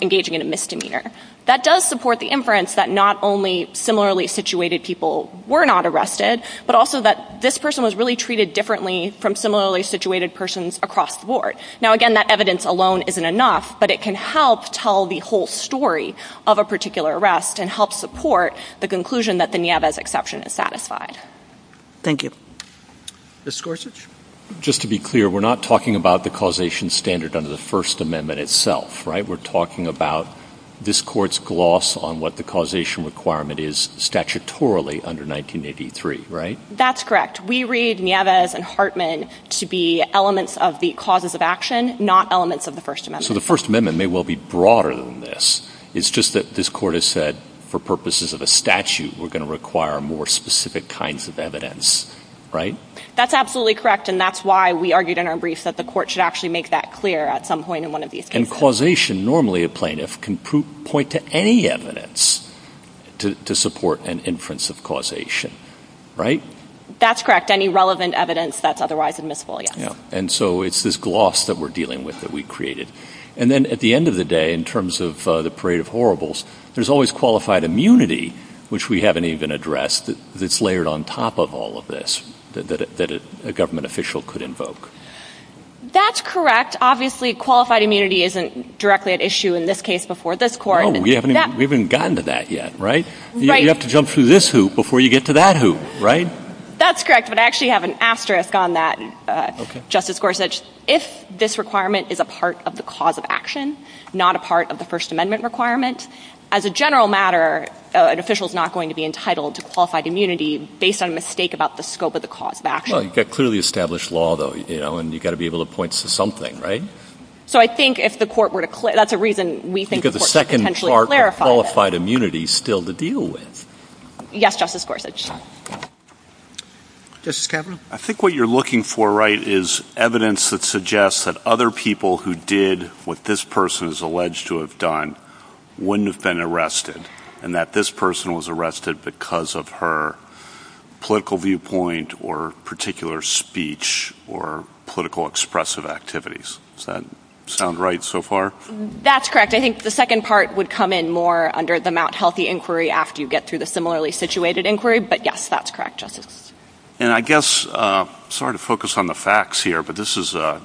engaging in a misdemeanor. That does support the inference that not only similarly situated people were not arrested, but also that this person was really treated differently from similarly situated persons across the board. Now again, that evidence alone isn't enough, but it can help tell the whole story of a particular arrest and help support the conclusion that the Nieves exception is satisfied. Thank you. Ms. Gorsuch? Just to be clear, we're not talking about the causation standard under the First Amendment itself, right? We're talking about this Court's gloss on what the causation requirement is statutorily under 1983, right? That's correct. We read Nieves and Hartman to be elements of the clauses of action, not elements of the First Amendment. So the First Amendment may well be broader than this. It's just that this Court has said for purposes of a statute, we're going to require more specific kinds of evidence, right? That's absolutely correct, and that's why we argued in our brief that the Court should actually make that clear at some point in one of these cases. And causation, normally a plaintiff can point to any evidence to support an inference of causation, right? That's correct. Any relevant evidence that's otherwise admissible, yes. And so it's this gloss that we're dealing with that we created. And then at the end of the day, in terms of the parade of horribles, there's always qualified immunity, which we haven't even addressed, that's layered on top of all of this that a government official could invoke. That's correct. Obviously, qualified immunity isn't directly at issue in this case before this Court. No, we haven't even gotten to that yet, right? Right. You have to jump through this hoop before you get to that hoop, right? That's correct, but I actually have an asterisk on that. Justice Gorsuch, if this requirement is a part of the cause of action, not a part of the First Amendment requirement, as a general matter, an official is not going to be entitled to qualified immunity based on a mistake about the scope of the cause of action. Well, you've got clearly established law, though, you know, and you've got to be able to point to something, right? So I think if the Court were to – that's a reason we think the Court could potentially clarify. Because the second part of qualified immunity is still to deal with. Yes, Justice Gorsuch. Justice Kavanaugh. I think what you're looking for, right, is evidence that suggests that other people who did what this person is alleged to have done wouldn't have been arrested and that this person was arrested because of her political viewpoint or particular speech or political expressive activities. Does that sound right so far? That's correct. I think the second part would come in more under the Mt. Healthy inquiry after you get through the similarly situated inquiry. But, yes, that's correct, Justice. And I guess – sorry to focus on the facts here, but this is an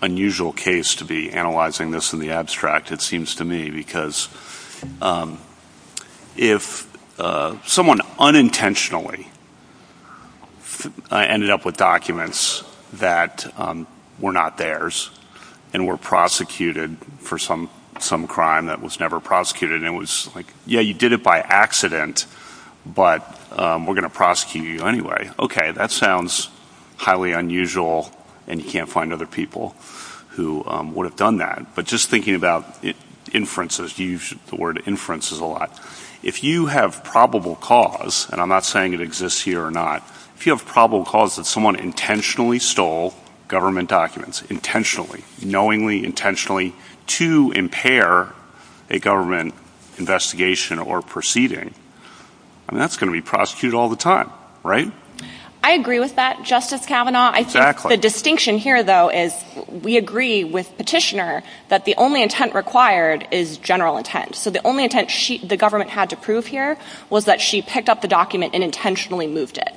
unusual case to be analyzing this in the abstract, it seems to me, because if someone unintentionally ended up with documents that were not theirs and were prosecuted for some crime that was never prosecuted and it was like, yeah, you did it by accident, but we're going to prosecute you anyway. Okay, that sounds highly unusual and you can't find other people who would have done that. But just thinking about inferences, you use the word inferences a lot. If you have probable cause, and I'm not saying it exists here or not, if you have probable cause that someone intentionally stole government documents, intentionally, knowingly, intentionally, to impair a government investigation or proceeding, that's going to be prosecuted all the time, right? I agree with that, Justice Kavanaugh. Exactly. The distinction here, though, is we agree with Petitioner that the only intent required is general intent. So the only intent the government had to prove here was that she picked up the document and intentionally moved it.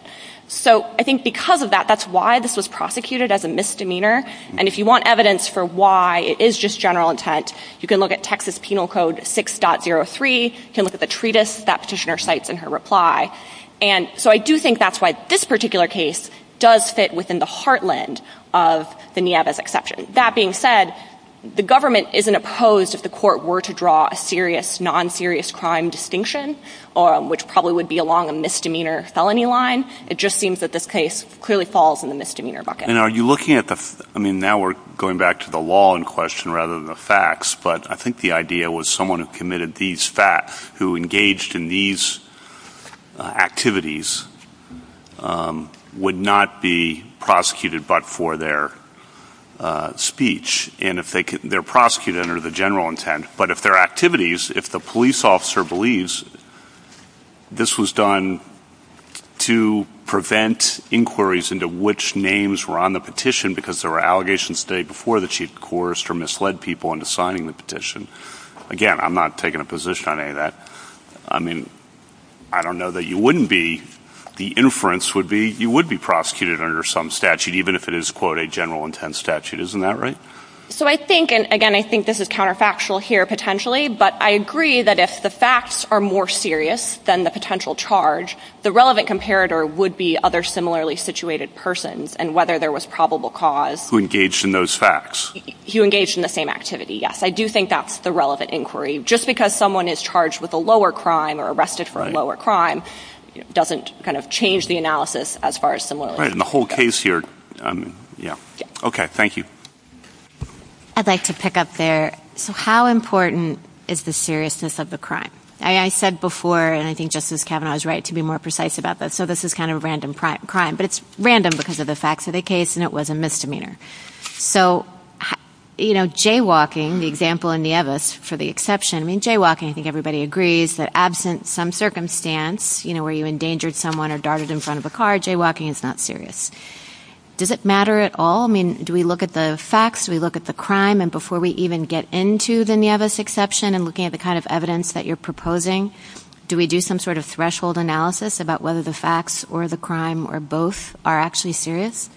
So I think because of that, that's why this was prosecuted as a misdemeanor. And if you want evidence for why it is just general intent, you can look at Texas Penal Code 6.03, you can look at the treatise that Petitioner cites in her reply. And so I do think that's why this particular case does fit within the heartland of the Nieves exception. That being said, the government isn't opposed if the court were to draw a serious, non-serious crime distinction, which probably would be along a misdemeanor felony line. It just seems that this case clearly falls in the misdemeanor bucket. And are you looking at the – I mean, now we're going back to the law in question rather than the facts, but I think the idea was someone who committed these – who engaged in these activities would not be prosecuted but for their speech. And if they – they're prosecuted under the general intent, but if their activities – if the police officer believes this was done to prevent inquiries into which names were on the petition because there were allegations the day before that she had coerced or misled people into signing the petition, again, I'm not taking a position on any of that. I mean, I don't know that you wouldn't be – the inference would be you would be prosecuted under some statute, even if it is, quote, a general intent statute. Isn't that right? So I think – and again, I think this is counterfactual here potentially, but I agree that if the facts are more serious than the potential charge, I think the relevant comparator would be other similarly situated persons and whether there was probable cause. Who engaged in those facts. Who engaged in the same activity, yes. I do think that's the relevant inquiry. Just because someone is charged with a lower crime or arrested for a lower crime doesn't kind of change the analysis as far as – Right. And the whole case here – yeah. Okay. Thank you. I'd like to pick up there. So how important is the seriousness of the crime? I said before, and I think Justice Kavanaugh is right to be more precise about this, so this is kind of a random crime, but it's random because of the facts of the case and it was a misdemeanor. So, you know, jaywalking, the example in Nieves for the exception. I mean, jaywalking, I think everybody agrees that absent some circumstance, you know, where you endangered someone or darted in front of a car, jaywalking is not serious. Does it matter at all? I mean, do we look at the facts? Do we look at the crime? And before we even get into the Nieves exception and looking at the kind of evidence that you're proposing, do we do some sort of threshold analysis about whether the facts or the crime or both are actually serious?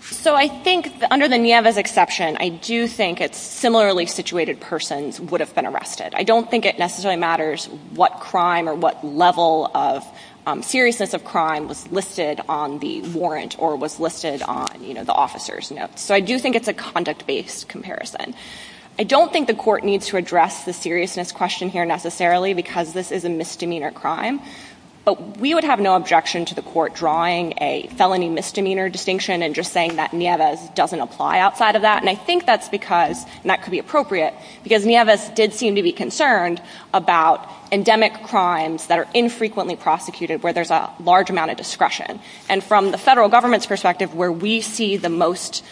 So I think under the Nieves exception, I do think a similarly situated person would have been arrested. I don't think it necessarily matters what crime or what level of seriousness of crime was listed on the warrant or was listed on, you know, the officer's notes. So I do think it's a conduct-based comparison. I don't think the court needs to address the seriousness question here necessarily because this is a misdemeanor crime, but we would have no objection to the court drawing a felony misdemeanor distinction and just saying that Nieves doesn't apply outside of that, and I think that's because, and that could be appropriate, because Nieves did seem to be concerned about endemic crimes that are infrequently prosecuted where there's a large amount of discretion. And from the federal government's perspective, where we see the most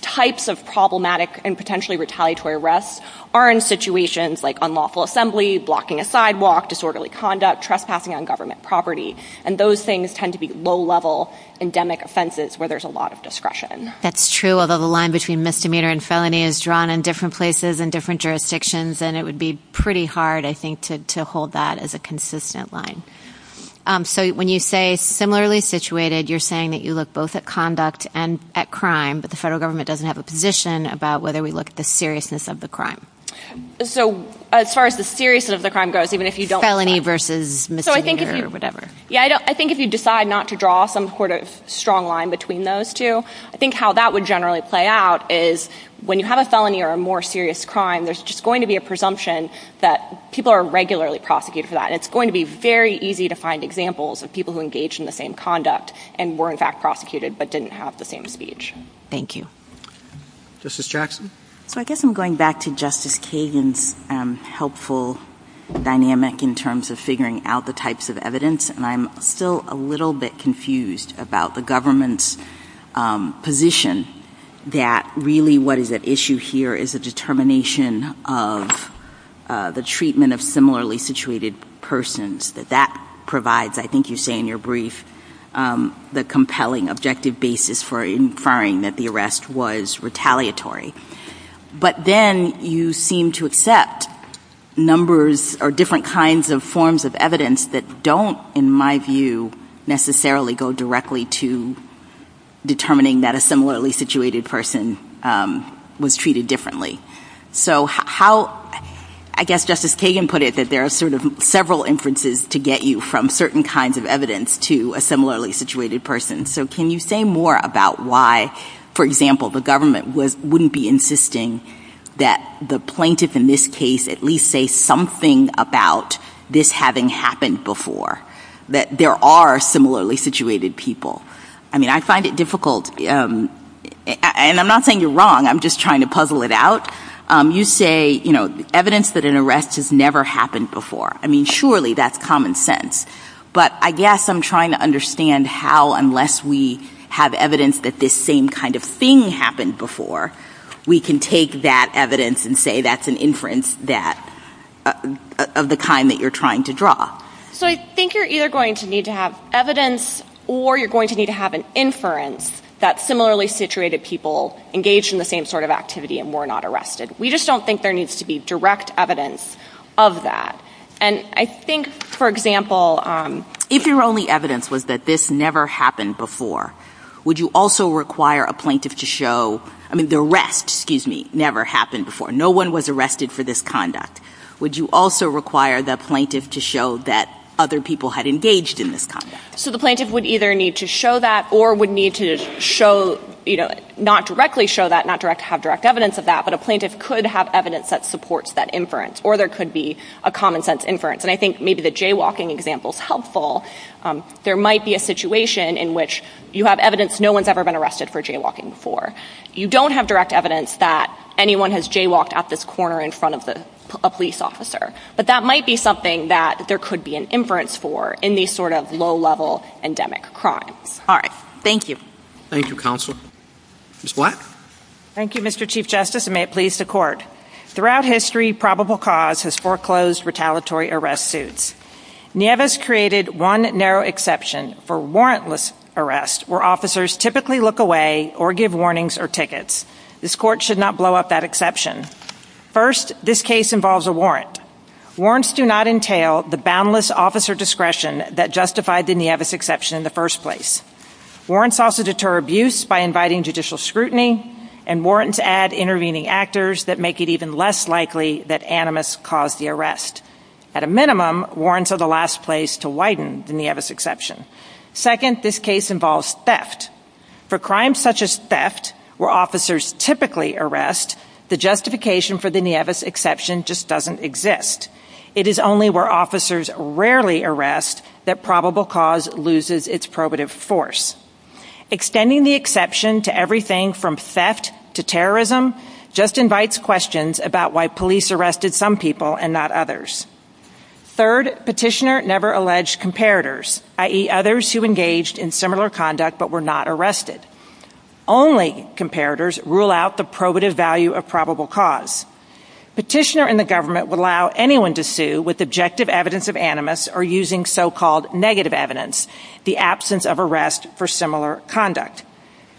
types of problematic and potentially retaliatory arrests are in situations like unlawful assembly, blocking a sidewalk, disorderly conduct, trespassing on government property. And those things tend to be low-level endemic offenses where there's a lot of discretion. That's true, although the line between misdemeanor and felony is drawn in different places and different jurisdictions, and it would be pretty hard, I think, to hold that as a consistent line. So when you say similarly situated, you're saying that you look both at conduct and at crime, but the federal government doesn't have a position about whether we look at the seriousness of the crime. So as far as the seriousness of the crime goes, even if you don't— Felony versus misdemeanor or whatever. Yeah, I think if you decide not to draw some sort of strong line between those two, I think how that would generally play out is when you have a felony or a more serious crime, there's just going to be a presumption that people are regularly prosecuted for that, and it's going to be very easy to find examples of people who engaged in the same conduct and were, in fact, prosecuted but didn't have the same speech. Thank you. Justice Jackson? So I guess I'm going back to Justice Kagan's helpful dynamic in terms of figuring out the types of evidence, and I'm still a little bit confused about the government's position that really what is at issue here is a determination of the treatment of similarly situated persons, that that provides, I think you say in your brief, the compelling objective basis for inferring that the arrest was retaliatory. But then you seem to accept numbers or different kinds of forms of evidence that don't, in my view, go directly to determining that a similarly situated person was treated differently. So I guess Justice Kagan put it that there are sort of several inferences to get you from certain kinds of evidence to a similarly situated person. So can you say more about why, for example, the government wouldn't be insisting that the plaintiff in this case at least say something about this having happened before, that there are similarly situated people? I mean, I find it difficult, and I'm not saying you're wrong. I'm just trying to puzzle it out. You say, you know, evidence that an arrest has never happened before. I mean, surely that's common sense. But I guess I'm trying to understand how unless we have evidence that this same kind of thing happened before, we can take that evidence and say that's an inference of the kind that you're trying to draw. So I think you're either going to need to have evidence or you're going to need to have an inference that similarly situated people engaged in the same sort of activity and were not arrested. We just don't think there needs to be direct evidence of that. And I think, for example— If your only evidence was that this never happened before, would you also require a plaintiff to show— I mean, the arrest, excuse me, never happened before. No one was arrested for this conduct. Would you also require the plaintiff to show that other people had engaged in this conduct? So the plaintiff would either need to show that or would need to not directly show that, not have direct evidence of that, but a plaintiff could have evidence that supports that inference or there could be a common sense inference. And I think maybe the jaywalking example is helpful. There might be a situation in which you have evidence no one's ever been arrested for jaywalking before. You don't have direct evidence that anyone has jaywalked out this corner in front of a police officer. But that might be something that there could be an inference for in these sort of low-level endemic crimes. All right. Thank you. Thank you, Counsel. Ms. Black? Thank you, Mr. Chief Justice, and may it please the Court. Throughout history, probable cause has foreclosed retaliatory arrest suits. Nieves created one narrow exception for warrantless arrests where officers typically look away or give warnings or tickets. This Court should not blow up that exception. First, this case involves a warrant. Warrants do not entail the boundless officer discretion that justified the Nieves exception in the first place. Warrants also deter abuse by inviting judicial scrutiny, and warrants add intervening actors that make it even less likely that animus caused the arrest. At a minimum, warrants are the last place to widen the Nieves exception. Second, this case involves theft. For crimes such as theft, where officers typically arrest, the justification for the Nieves exception just doesn't exist. It is only where officers rarely arrest that probable cause loses its probative force. Extending the exception to everything from theft to terrorism just invites questions about why police arrested some people and not others. Third, petitioner never alleged comparators, i.e., others who engaged in similar conduct but were not arrested. Only comparators rule out the probative value of probable cause. Petitioner and the government would allow anyone to sue with objective evidence of animus or using so-called negative evidence, the absence of arrest for similar conduct.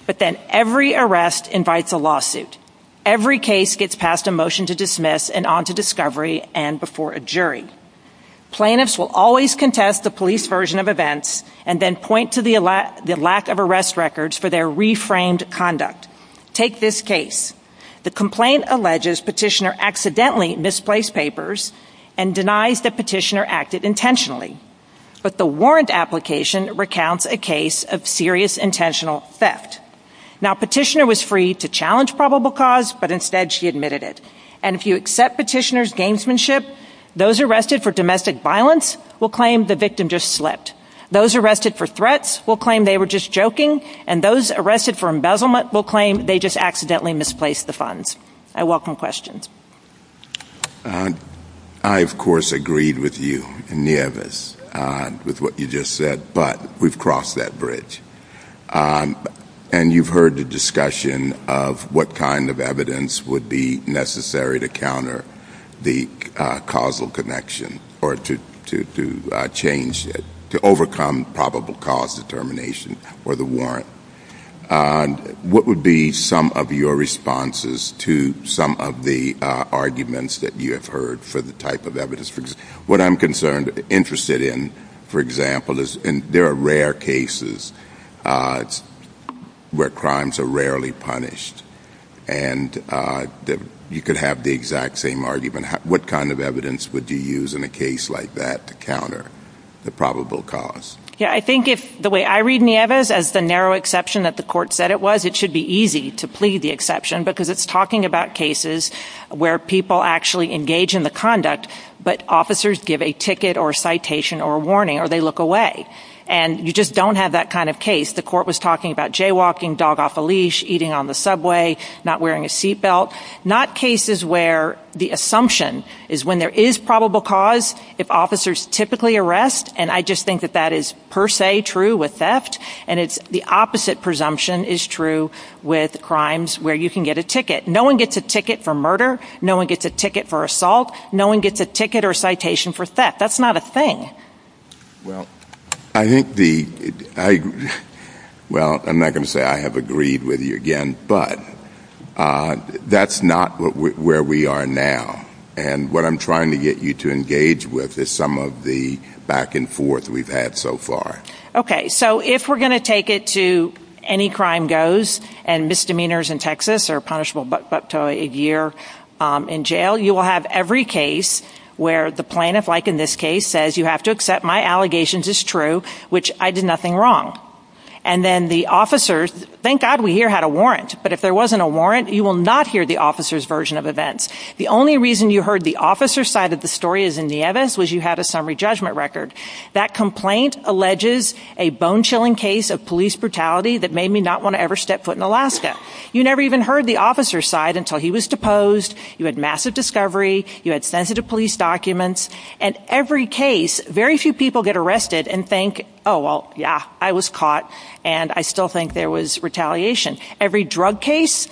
But then every arrest invites a lawsuit. Every case gets passed a motion to dismiss and on to discovery and before a jury. Plaintiffs will always contest the police version of events and then point to the lack of arrest records for their reframed conduct. Take this case. The complaint alleges petitioner accidentally misplaced papers and denies that petitioner acted intentionally. But the warrant application recounts a case of serious intentional theft. Now, petitioner was free to challenge probable cause, but instead she admitted it. And if you accept petitioner's gamesmanship, those arrested for domestic violence will claim the victim just slipped. Those arrested for threats will claim they were just joking and those arrested for embezzlement will claim they just accidentally misplaced the funds. I welcome questions. I, of course, agreed with you, Nieves, with what you just said, but we've crossed that bridge. And you've heard the discussion of what kind of evidence would be necessary to counter the causal connection or to change it, to overcome probable cause determination or the warrant. What would be some of your responses to some of the arguments that you have heard for the type of evidence? What I'm concerned, interested in, for example, is there are rare cases where crimes are rarely punished and you could have the exact same argument. What kind of evidence would you use in a case like that to counter the probable cause? Yeah, I think if the way I read, Nieves, as the narrow exception that the court said it was, it should be easy to plead the exception because it's talking about cases where people actually engage in the conduct, but officers give a ticket or a citation or a warning or they look away. And you just don't have that kind of case. The court was talking about jaywalking, dog off a leash, eating on the subway, not wearing a seatbelt. Not cases where the assumption is when there is probable cause, if officers typically arrest, and I just think that that is per se true with theft, and it's the opposite presumption is true with crimes where you can get a ticket. No one gets a ticket for murder. No one gets a ticket for assault. No one gets a ticket or a citation for theft. That's not a thing. Well, I'm not going to say I have agreed with you again, but that's not where we are now. And what I'm trying to get you to engage with is some of the back and forth we've had so far. Okay, so if we're going to take it to any crime goes and misdemeanors in Texas are punishable up to a year in jail, you will have every case where the plaintiff, like in this case, says you have to accept my allegations as true, which I did nothing wrong. And then the officers, thank God we here had a warrant, but if there wasn't a warrant, you will not hear the officer's version of events. The only reason you heard the officer's side of the story as in the evidence was you had a summary judgment record. That complaint alleges a bone-chilling case of police brutality that made me not want to ever step foot in Alaska. You never even heard the officer's side until he was deposed. You had massive discovery. You had sensitive police documents. And every case, very few people get arrested and think, oh, well, yeah, I was caught, and I still think there was retaliation. Every drug case?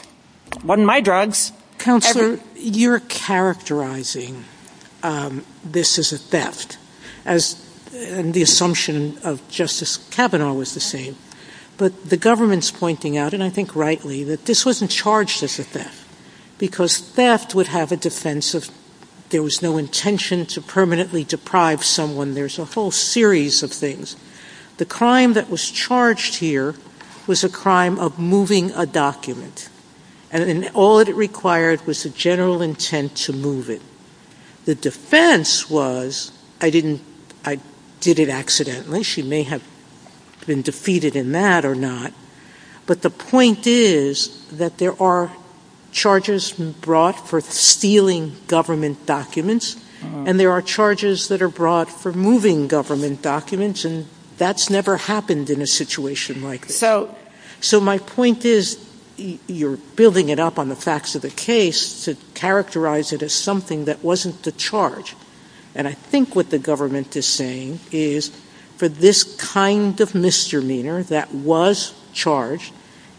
It wasn't my drugs. Counselor, you're characterizing this as a theft, and the assumption of Justice Kavanaugh was the same. But the government's pointing out, and I think rightly, that this wasn't charged as a theft, because theft would have a defense of there was no intention to permanently deprive someone. There's a whole series of things. The crime that was charged here was a crime of moving a document, and all it required was the general intent to move it. The defense was I did it accidentally. She may have been defeated in that or not, but the point is that there are charges brought for stealing government documents, and there are charges that are brought for moving government documents, and that's never happened in a situation like this. So my point is you're building it up on the facts of the case to characterize it as something that wasn't the charge. And I think what the government is saying is for this kind of misdemeanor that was charged,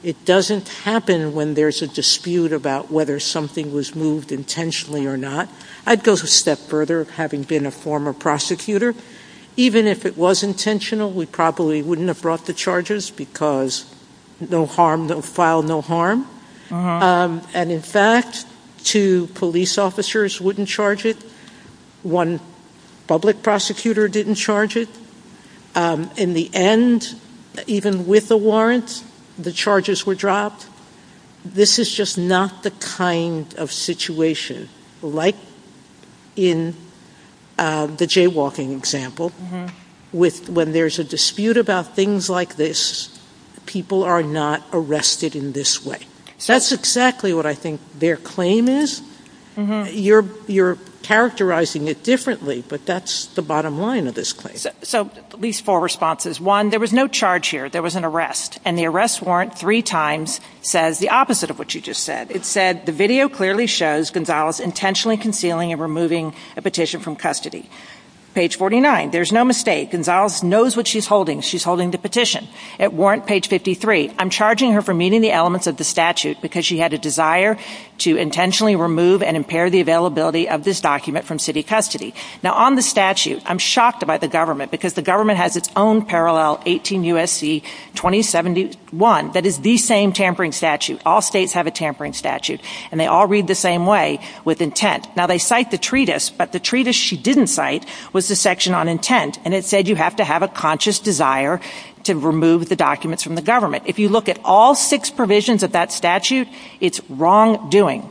it doesn't happen when there's a dispute about whether something was moved intentionally or not. I'd go a step further, having been a former prosecutor. Even if it was intentional, we probably wouldn't have brought the charges, because no harm, no foul, no harm. And in fact, two police officers wouldn't charge it. One public prosecutor didn't charge it. In the end, even with a warrant, the charges were dropped. This is just not the kind of situation like in the jaywalking example when there's a dispute about things like this, people are not arrested in this way. That's exactly what I think their claim is. You're characterizing it differently, but that's the bottom line of this claim. So at least four responses. One, there was no charge here. There was an arrest. And the arrest warrant three times says the opposite of what you just said. It said, the video clearly shows Gonzalez intentionally concealing and removing a petition from custody. Page 49, there's no mistake. Gonzalez knows what she's holding. She's holding the petition. At warrant page 53, I'm charging her for meeting the elements of the statute because she had a desire to intentionally remove and impair the availability of this document from city custody. Now, on the statute, I'm shocked by the government because the government has its own parallel, 18 U.S.C. 2071, that is the same tampering statute. All states have a tampering statute, and they all read the same way with intent. Now, they cite the treatise, but the treatise she didn't cite was the section on intent, and it said you have to have a conscious desire to remove the documents from the government. If you look at all six provisions of that statute, it's wrongdoing,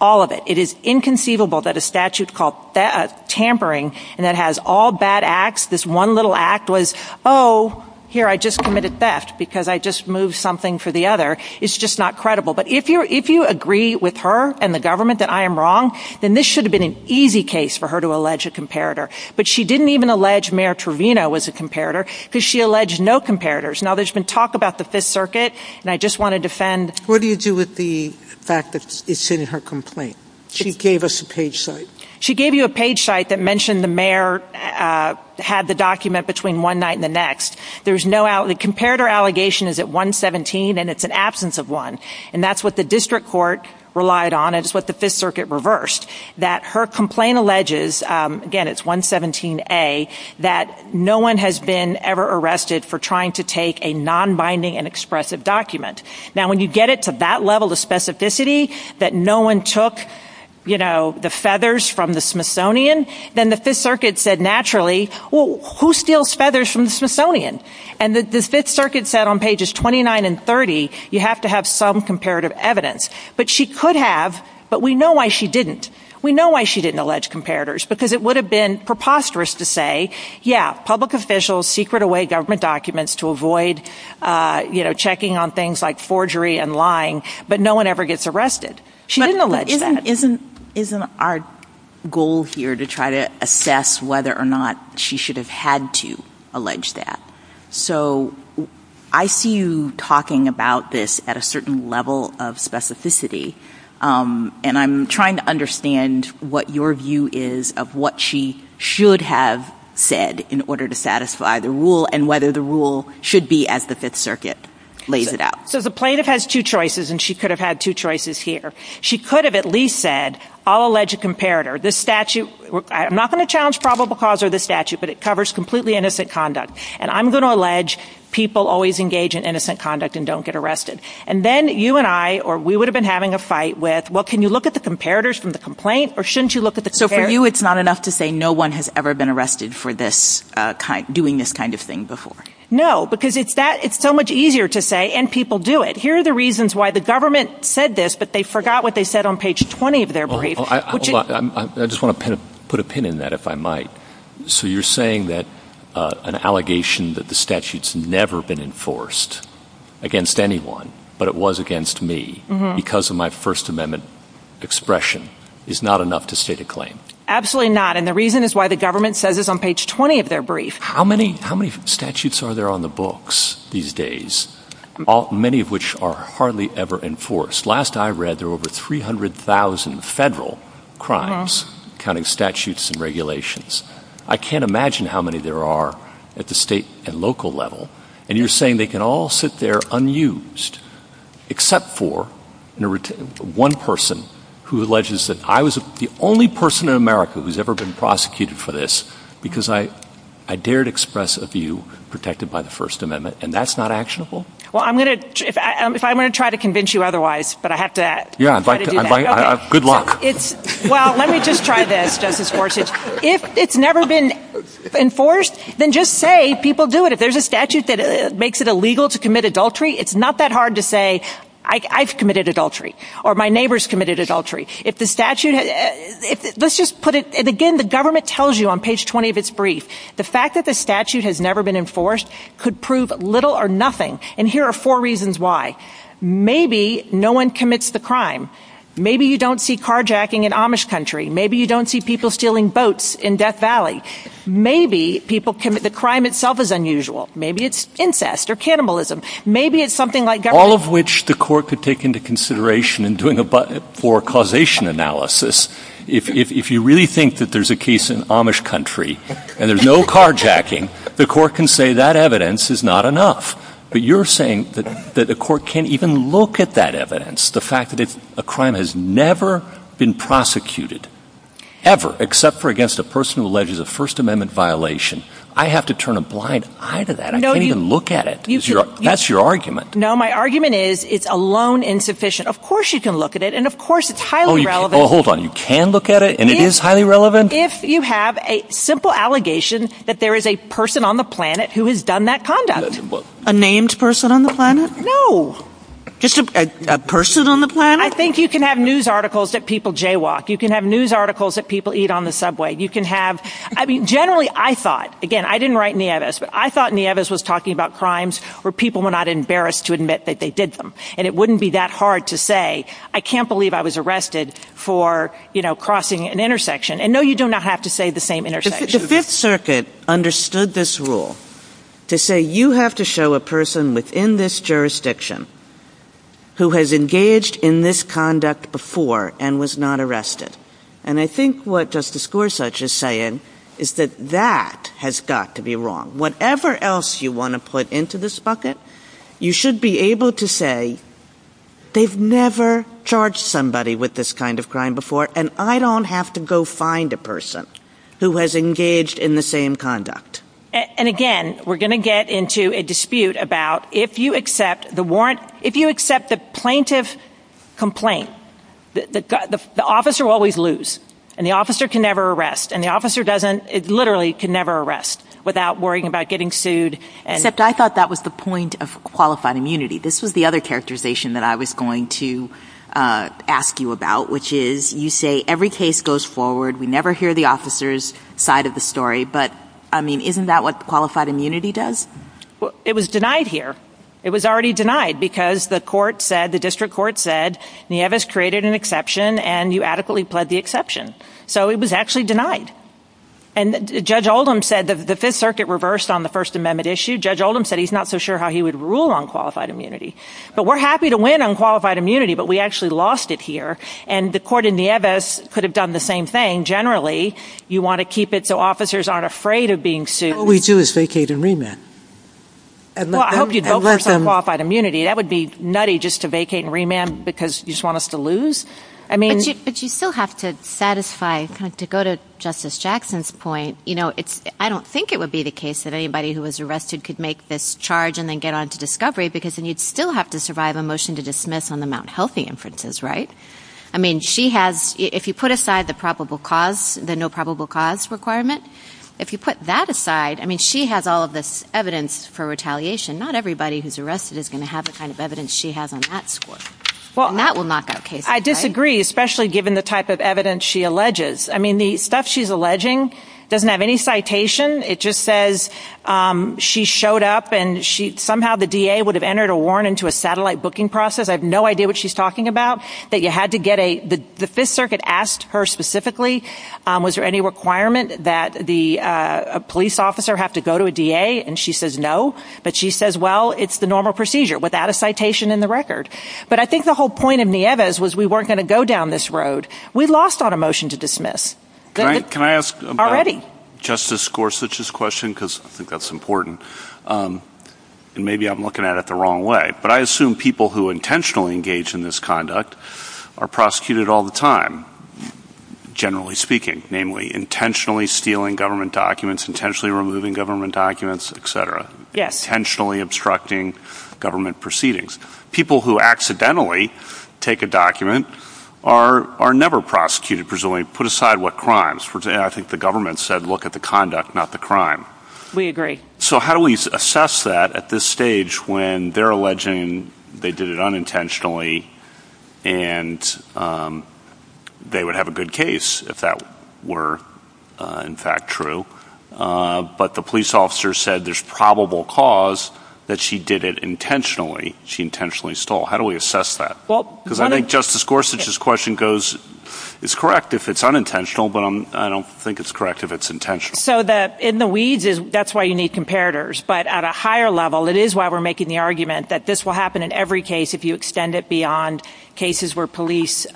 all of it. It is inconceivable that a statute called tampering and that has all bad acts, this one little act was, oh, here, I just committed theft because I just moved something for the other. It's just not credible. But if you agree with her and the government that I am wrong, then this should have been an easy case for her to allege a comparator. But she didn't even allege Mayor Trevino was a comparator because she alleged no comparators. Now, there's been talk about the Fifth Circuit, and I just want to defend. What do you do with the fact that it's in her complaint? She gave us a page site. She gave you a page site that mentioned the mayor had the document between one night and the next. The comparator allegation is at 117, and it's an absence of one. And that's what the district court relied on, and it's what the Fifth Circuit reversed, that her complaint alleges, again, it's 117A, that no one has been ever arrested for trying to take a nonbinding and expressive document. Now, when you get it to that level of specificity that no one took, you know, the feathers from the Smithsonian, then the Fifth Circuit said naturally, well, who steals feathers from the Smithsonian? And the Fifth Circuit said on pages 29 and 30 you have to have some comparative evidence. But she could have, but we know why she didn't. We know why she didn't allege comparators because it would have been preposterous to say, Yeah, public officials secret away government documents to avoid, you know, checking on things like forgery and lying, but no one ever gets arrested. She didn't allege that. Isn't our goal here to try to assess whether or not she should have had to allege that? So I see you talking about this at a certain level of specificity, and I'm trying to understand what your view is of what she should have said in order to satisfy the rule and whether the rule should be as the Fifth Circuit lays it out. So the plaintiff has two choices, and she could have had two choices here. She could have at least said, I'll allege a comparator. This statute, I'm not going to challenge probable cause or this statute, but it covers completely innocent conduct, and I'm going to allege people always engage in innocent conduct and don't get arrested. And then you and I or we would have been having a fight with, well, can you look at the comparators from the complaint or shouldn't you look at the comparators? So for you, it's not enough to say no one has ever been arrested for doing this kind of thing before? No, because it's so much easier to say, and people do it. Here are the reasons why the government said this, but they forgot what they said on page 20 of their brief. Hold on. I just want to put a pin in that, if I might. So you're saying that an allegation that the statute's never been enforced against anyone, but it was against me because of my First Amendment expression is not enough to state a claim? Absolutely not, and the reason is why the government says this on page 20 of their brief. How many statutes are there on the books these days, many of which are hardly ever enforced? Last I read, there were over 300,000 federal crimes, counting statutes and regulations. I can't imagine how many there are at the state and local level, and you're saying they can all sit there unused, except for one person who alleges that I was the only person in America who's ever been prosecuted for this because I dared express a view protected by the First Amendment, and that's not actionable? Well, I'm going to try to convince you otherwise, but I have to do that. Yeah, good luck. Well, let me just try this. If it's never been enforced, then just say people do it. If there's a statute that makes it illegal to commit adultery, it's not that hard to say, I've committed adultery, or my neighbor's committed adultery. Let's just put it, and again, the government tells you on page 20 of its brief, the fact that the statute has never been enforced could prove little or nothing, and here are four reasons why. Maybe no one commits the crime. Maybe you don't see carjacking in Amish country. Maybe you don't see people stealing boats in Death Valley. Maybe the crime itself is unusual. Maybe it's incest or cannibalism. All of which the court could take into consideration in doing a causation analysis, if you really think that there's a case in Amish country, and there's no carjacking, the court can say that evidence is not enough. But you're saying that the court can't even look at that evidence, the fact that a crime has never been prosecuted, ever, except for against a person who alleges a First Amendment violation. I have to turn a blind eye to that. I can't even look at it. That's your argument. No, my argument is it's alone insufficient. Of course you can look at it, and of course it's highly relevant. Well, hold on. You can look at it, and it is highly relevant? If you have a simple allegation that there is a person on the planet who has done that conduct. A named person on the planet? No. Just a person on the planet? I think you can have news articles that people jaywalk. You can have news articles that people eat on the subway. You can have, I mean, generally I thought, again, I didn't write Nieves, but I thought Nieves was talking about crimes where people were not embarrassed to admit that they did them. And it wouldn't be that hard to say, I can't believe I was arrested for, you know, crossing an intersection. And no, you do not have to say the same intersection. The Fifth Circuit understood this rule to say you have to show a person within this jurisdiction who has engaged in this conduct before and was not arrested. And I think what Justice Gorsuch is saying is that that has got to be wrong. Whatever else you want to put into this bucket, you should be able to say, they've never charged somebody with this kind of crime before, and I don't have to go find a person who has engaged in the same conduct. And again, we're going to get into a dispute about if you accept the warrant, if you accept the plaintiff's complaint, the officer will always lose, and the officer can never arrest, and the officer literally can never arrest without worrying about getting sued. Except I thought that was the point of qualified immunity. This was the other characterization that I was going to ask you about, which is you say every case goes forward, we never hear the officer's side of the story, but, I mean, isn't that what qualified immunity does? Well, it was denied here. It was already denied because the court said, the district court said, Nieves created an exception, and you adequately pled the exception. So it was actually denied. And Judge Oldham said the Fifth Circuit reversed on the First Amendment issue. Judge Oldham said he's not so sure how he would rule on qualified immunity. But we're happy to win on qualified immunity, but we actually lost it here, and the court in Nieves could have done the same thing. Generally, you want to keep it so officers aren't afraid of being sued. All we do is vacate and remand. Well, I hope you don't force on qualified immunity. That would be nutty just to vacate and remand because you just want us to lose. But you still have to satisfy, to go to Justice Jackson's point, I don't think it would be the case that anybody who was arrested could make this charge and then get onto discovery because then you'd still have to survive a motion to dismiss on the Mount Healthy inferences, right? I mean, she has, if you put aside the probable cause, the no probable cause requirement, if you put that aside, I mean, she has all of this evidence for retaliation. Not everybody who's arrested is going to have the kind of evidence she has on that score. And that will knock out cases. I disagree, especially given the type of evidence she alleges. I mean, the stuff she's alleging doesn't have any citation. It just says she showed up and somehow the DA would have entered a warrant into a satellite booking process. I have no idea what she's talking about. The Fifth Circuit asked her specifically, was there any requirement that a police officer have to go to a DA, and she says no. But she says, well, it's the normal procedure without a citation in the record. But I think the whole point of Nieves was we weren't going to go down this road. We lost on a motion to dismiss. Can I ask about Justice Gorsuch's question because I think that's important. And maybe I'm looking at it the wrong way. But I assume people who intentionally engage in this conduct are prosecuted all the time, generally speaking, namely intentionally stealing government documents, intentionally removing government documents, et cetera, intentionally obstructing government proceedings. People who accidentally take a document are never prosecuted, presumably put aside what crimes. I think the government said look at the conduct, not the crime. We agree. So how do we assess that at this stage when they're alleging they did it unintentionally and they would have a good case if that were in fact true. But the police officer said there's probable cause that she did it intentionally. She intentionally stole. How do we assess that? Because I think Justice Gorsuch's question goes it's correct if it's unintentional, but I don't think it's correct if it's intentional. So in the weeds, that's why you need comparators. But at a higher level, it is why we're making the argument that this will happen in every case if you extend it beyond cases where police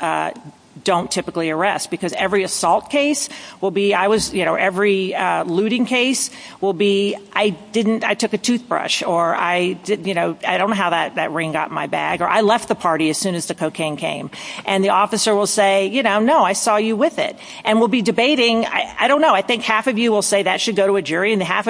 don't typically arrest. Because every assault case will be I was, you know, every looting case will be I didn't, I took a toothbrush or I didn't, you know, I don't know how that ring got in my bag or I left the party as soon as the cocaine came. And the officer will say, you know, no, I saw you with it. And we'll be debating, I don't know, I think half of you will say that should go to a jury How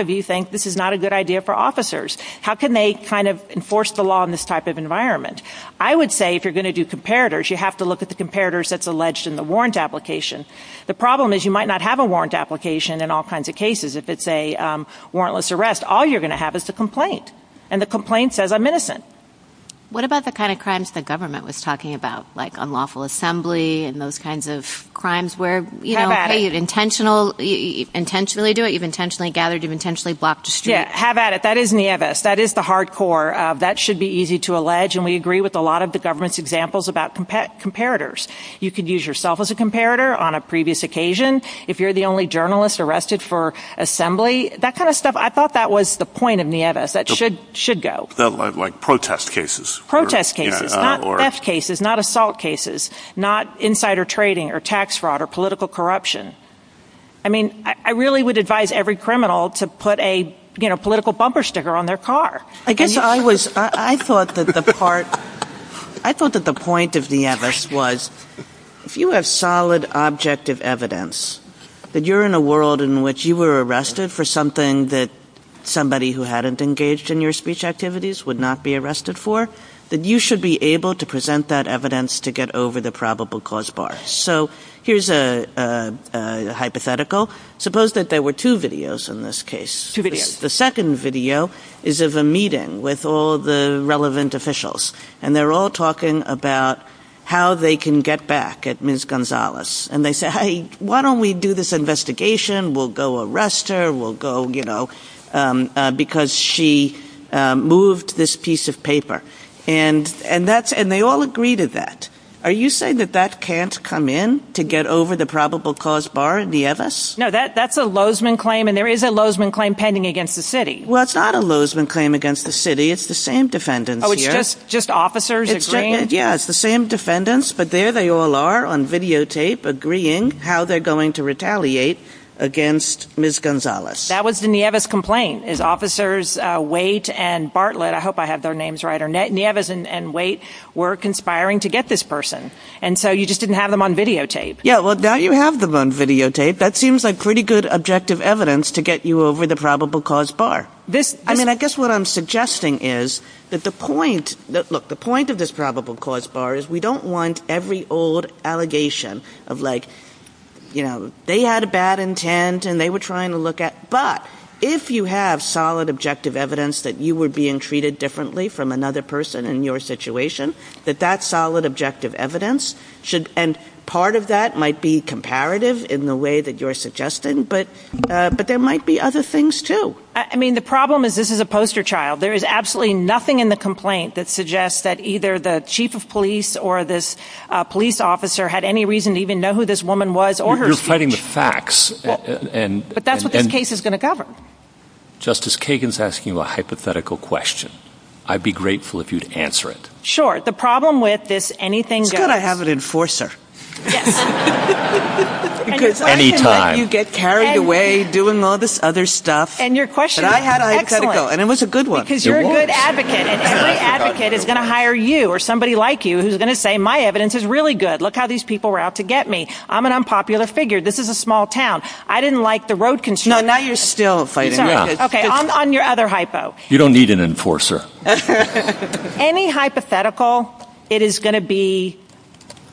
can they kind of enforce the law in this type of environment? I would say if you're going to do comparators, you have to look at the comparators that's alleged in the warrant application. The problem is you might not have a warrant application in all kinds of cases. If it's a warrantless arrest, all you're going to have is the complaint. And the complaint says I'm innocent. What about the kind of crimes the government was talking about, like unlawful assembly and those kinds of crimes where, you know, you intentionally do it, you've intentionally gathered, you've intentionally blocked streets. Yeah, have at it. That is Nieves. That is the hard core. That should be easy to allege, and we agree with a lot of the government's examples about comparators. You could use yourself as a comparator on a previous occasion. If you're the only journalist arrested for assembly, that kind of stuff, I thought that was the point of Nieves. That should go. Like protest cases. Protest cases, not theft cases, not assault cases, not insider trading or tax fraud or political corruption. I mean, I really would advise every criminal to put a political bumper sticker on their car. I guess I was, I thought that the part, I thought that the point of Nieves was if you have solid objective evidence that you're in a world in which you were arrested for something that somebody who hadn't engaged in your speech activities would not be arrested for, that you should be able to present that evidence to get over the probable cause bar. Yes. So here's a hypothetical. Suppose that there were two videos in this case. Two videos. The second video is of a meeting with all the relevant officials, and they're all talking about how they can get back at Ms. Gonzalez. And they say, hey, why don't we do this investigation? We'll go arrest her. We'll go, you know, because she moved this piece of paper. And they all agree to that. Are you saying that that can't come in to get over the probable cause bar, Nieves? No, that's a Lozman claim, and there is a Lozman claim pending against the city. Well, it's not a Lozman claim against the city. It's the same defendants here. Oh, it's just officers agreeing? Yeah, it's the same defendants, but there they all are on videotape agreeing how they're going to retaliate against Ms. Gonzalez. That was the Nieves complaint, is officers Waite and Bartlett. I hope I have their names right. Nieves and Waite were conspiring to get this person. And so you just didn't have them on videotape. Yeah, well, now you have them on videotape. That seems like pretty good objective evidence to get you over the probable cause bar. I mean, I guess what I'm suggesting is that the point of this probable cause bar is we don't want every old allegation of like, you know, they had a bad intent and they were trying to look at, but if you have solid objective evidence that you were being treated differently from another person in your situation, that that solid objective evidence should, and part of that might be comparative in the way that you're suggesting, but there might be other things too. I mean, the problem is this is a poster child. There is absolutely nothing in the complaint that suggests that either the chief of police or this police officer had any reason to even know who this woman was or her speech. You're fighting the facts. But that's what the case is going to cover. Justice Kagan's asking a hypothetical question. I'd be grateful if you'd answer it. Sure. The problem with this anything goes. It's good I have an enforcer. Anytime. Because I can let you get carried away doing all this other stuff. And your question is excellent. And it was a good one. It was. Because you're a good advocate. An advocate is going to hire you or somebody like you who's going to say my evidence is really good. Look how these people were out to get me. I'm an unpopular figure. This is a small town. I didn't like the road construction. No, now you're still fighting. Okay, on your other hypo. You don't need an enforcer. Any hypothetical, it is going to be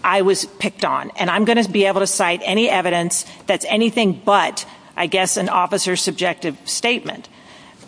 I was picked on. And I'm going to be able to cite any evidence that's anything but, I guess, an officer's subjective statement.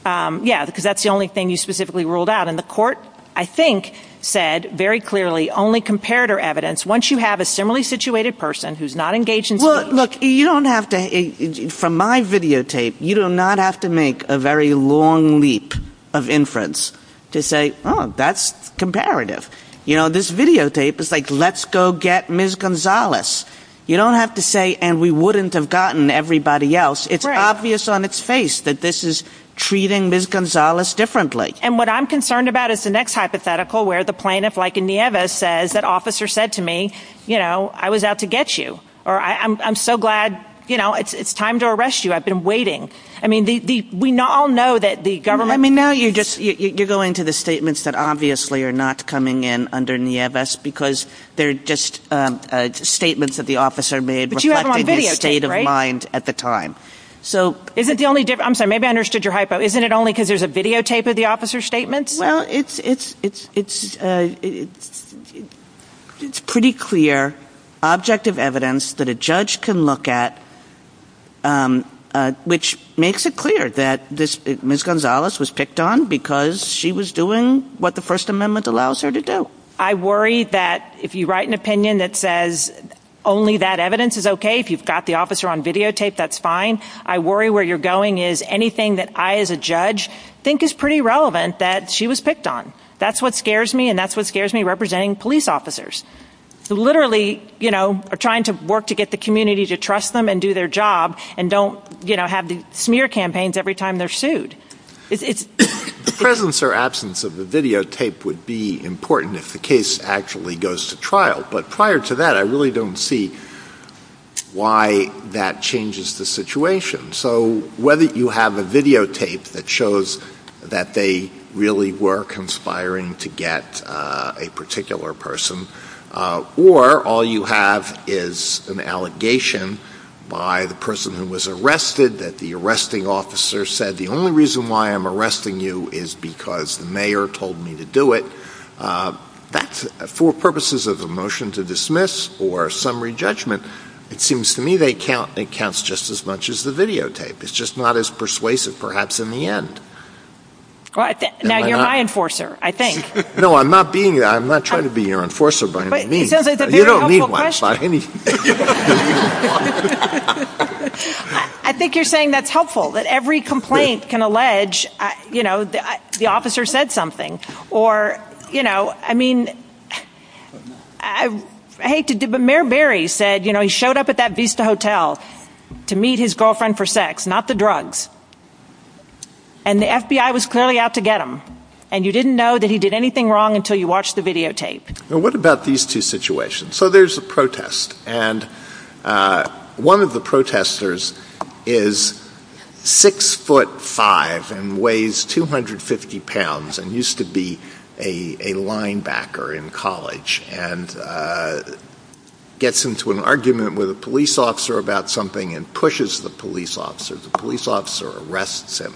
Yeah, because that's the only thing you specifically ruled out. And the court, I think, said very clearly only comparator evidence. Once you have a similarly situated person who's not engaged in. Well, look, you don't have to, from my videotape, you do not have to make a very long leap of inference to say, oh, that's comparative. You know, this videotape is like, let's go get Ms. Gonzalez. You don't have to say, and we wouldn't have gotten everybody else. It's obvious on its face that this is treating Ms. Gonzalez differently. And what I'm concerned about is the next hypothetical where the plaintiff, like Inieva, says that officer said to me, you know, I was out to get you. Or I'm so glad, you know, it's time to arrest you. I've been waiting. I mean, we all know that the government. I mean, now you're just, you're going to the statements that obviously are not coming in underneath us because they're just statements that the officer made. But you have them on videotape, right? Reflecting his state of mind at the time. So. Is it the only, I'm sorry, maybe I understood your hypo. Isn't it only because there's a videotape of the officer's statements? Well, it's, it's, it's, it's, it's pretty clear objective evidence that a judge can look at. Which makes it clear that this Ms. Gonzalez was picked on because she was doing what the First Amendment allows her to do. I worry that if you write an opinion that says only that evidence is okay, if you've got the officer on videotape, that's fine. I worry where you're going is anything that I, as a judge, think is pretty relevant that she was picked on. That's what scares me and that's what scares me representing police officers. Who literally, you know, are trying to work to get the community to trust them and do their job and don't, you know, have the smear campaigns every time they're sued. The presence or absence of the videotape would be important if the case actually goes to trial. But prior to that, I really don't see why that changes the situation. So whether you have a videotape that shows that they really were conspiring to get a particular person, or all you have is an allegation by the person who was arrested that the arresting officer said the only reason why I'm arresting you is because the mayor told me to do it. For purposes of a motion to dismiss or summary judgment, it seems to me they count just as much as the videotape. It's just not as persuasive, perhaps in the end. Now you're my enforcer, I think. No, I'm not trying to be your enforcer, but I don't mean that. You don't need my advice. I think you're saying that's helpful, that every complaint can allege, you know, the officer said something. Or, you know, I mean, Mayor Berry said, you know, he showed up at that Vista Hotel to meet his girlfriend for sex, not the drugs. And the FBI was clearly out to get him. And you didn't know that he did anything wrong until you watched the videotape. Well, what about these two situations? So there's a protest. And one of the protesters is six foot five and weighs 250 pounds and used to be a linebacker in college and gets into an argument with a police officer about something and pushes the police officer. The police officer arrests him,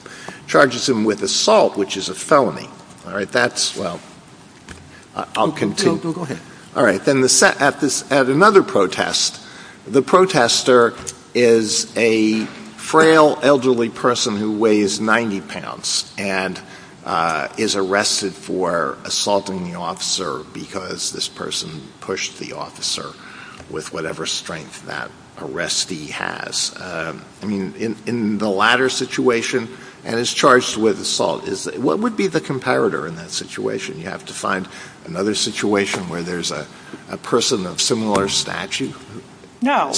charges him with assault, which is a felony. All right, that's, well, I'll continue. Go ahead. All right, then at another protest, the protester is a frail elderly person who weighs 90 pounds and is arrested for assaulting the officer because this person pushed the officer with whatever strength that arrestee has. I mean, in the latter situation, and is charged with assault. What would be the comparator in that situation? You have to find another situation where there's a person of similar stature? No.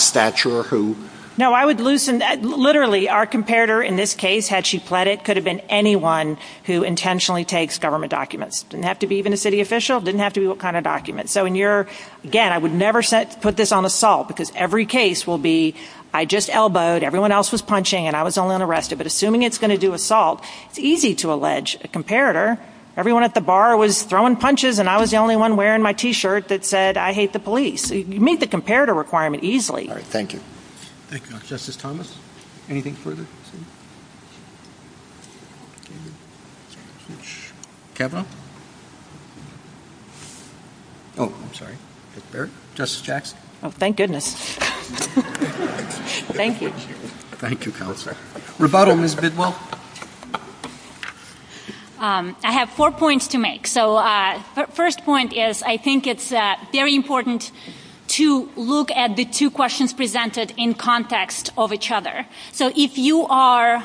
No, I would loosen that. Literally, our comparator in this case, had she fled it, could have been anyone who intentionally takes government documents. It didn't have to be even a city official. It didn't have to be what kind of document. Again, I would never put this on assault, because every case will be, I just elbowed, everyone else was punching, and I was the only one arrested. But assuming it's going to do assault, it's easy to allege a comparator. Everyone at the bar was throwing punches, and I was the only one wearing my T-shirt that said, I hate the police. You meet the comparator requirement easily. All right, thank you. Thank you. Justice Thomas, anything further? Thank you. Kevin? Justice Jackson? Thank goodness. Thank you. Thank you, Counselor. Rebuttal, Ms. Bidwell? I have four points to make. First point is, I think it's very important to look at the two questions presented in context of each other. If you are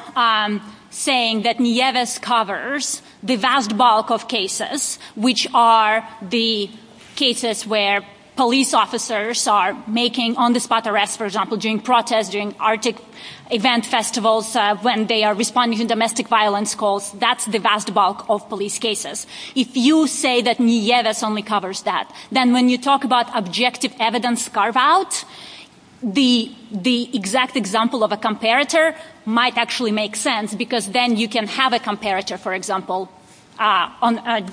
saying that Nieves covers the vast bulk of cases, which are the cases where police officers are making on-the-spot arrests, for example, during protests, during Arctic events, festivals, when they are responding to domestic violence calls, that's the vast bulk of police cases. If you say that Nieves only covers that, then when you talk about objective evidence carve-out, the exact example of a comparator might actually make sense, because then you can have a comparator, for example,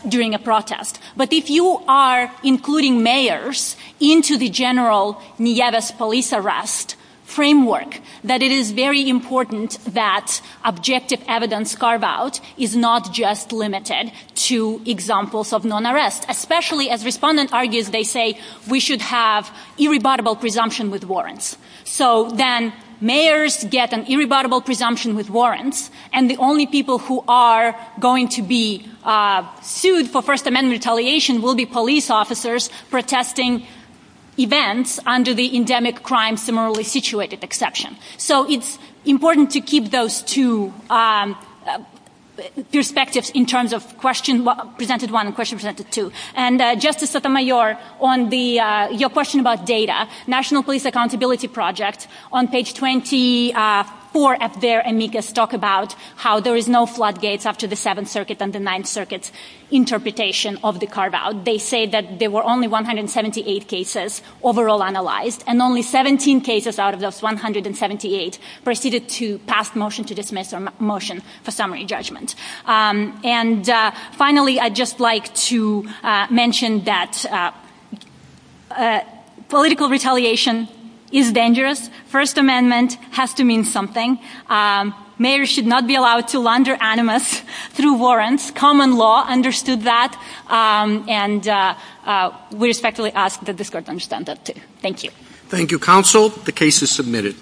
during a protest. But if you are including mayors into the general Nieves police arrest framework, that it is very important that objective evidence carve-out is not just limited to examples of non-arrest, especially as respondent argues, they say, we should have irrebuttable presumption with warrants. So then mayors get an irrebuttable presumption with warrants, and the only people who are going to be sued for First Amendment retaliation will be police officers protesting events under the endemic crime similarly situated exception. So it's important to keep those two perspectives in terms of question presented one and question presented two. And Justice Sotomayor, on your question about data, National Police Accountability Project, on page 24 up there, amicus talk about how there is no floodgates after the Seventh Circuit and the Ninth Circuit's interpretation of the carve-out. They say that there were only 178 cases overall analyzed, and only 17 cases out of those 178 proceeded to pass motion to dismiss or motion for summary judgment. And finally, I'd just like to mention that political retaliation is dangerous. First Amendment has to mean something. Mayors should not be allowed to launder animus through warrants. Common law understood that, and we respectfully ask that the court understand that, too. Thank you. Thank you, counsel. The case is submitted.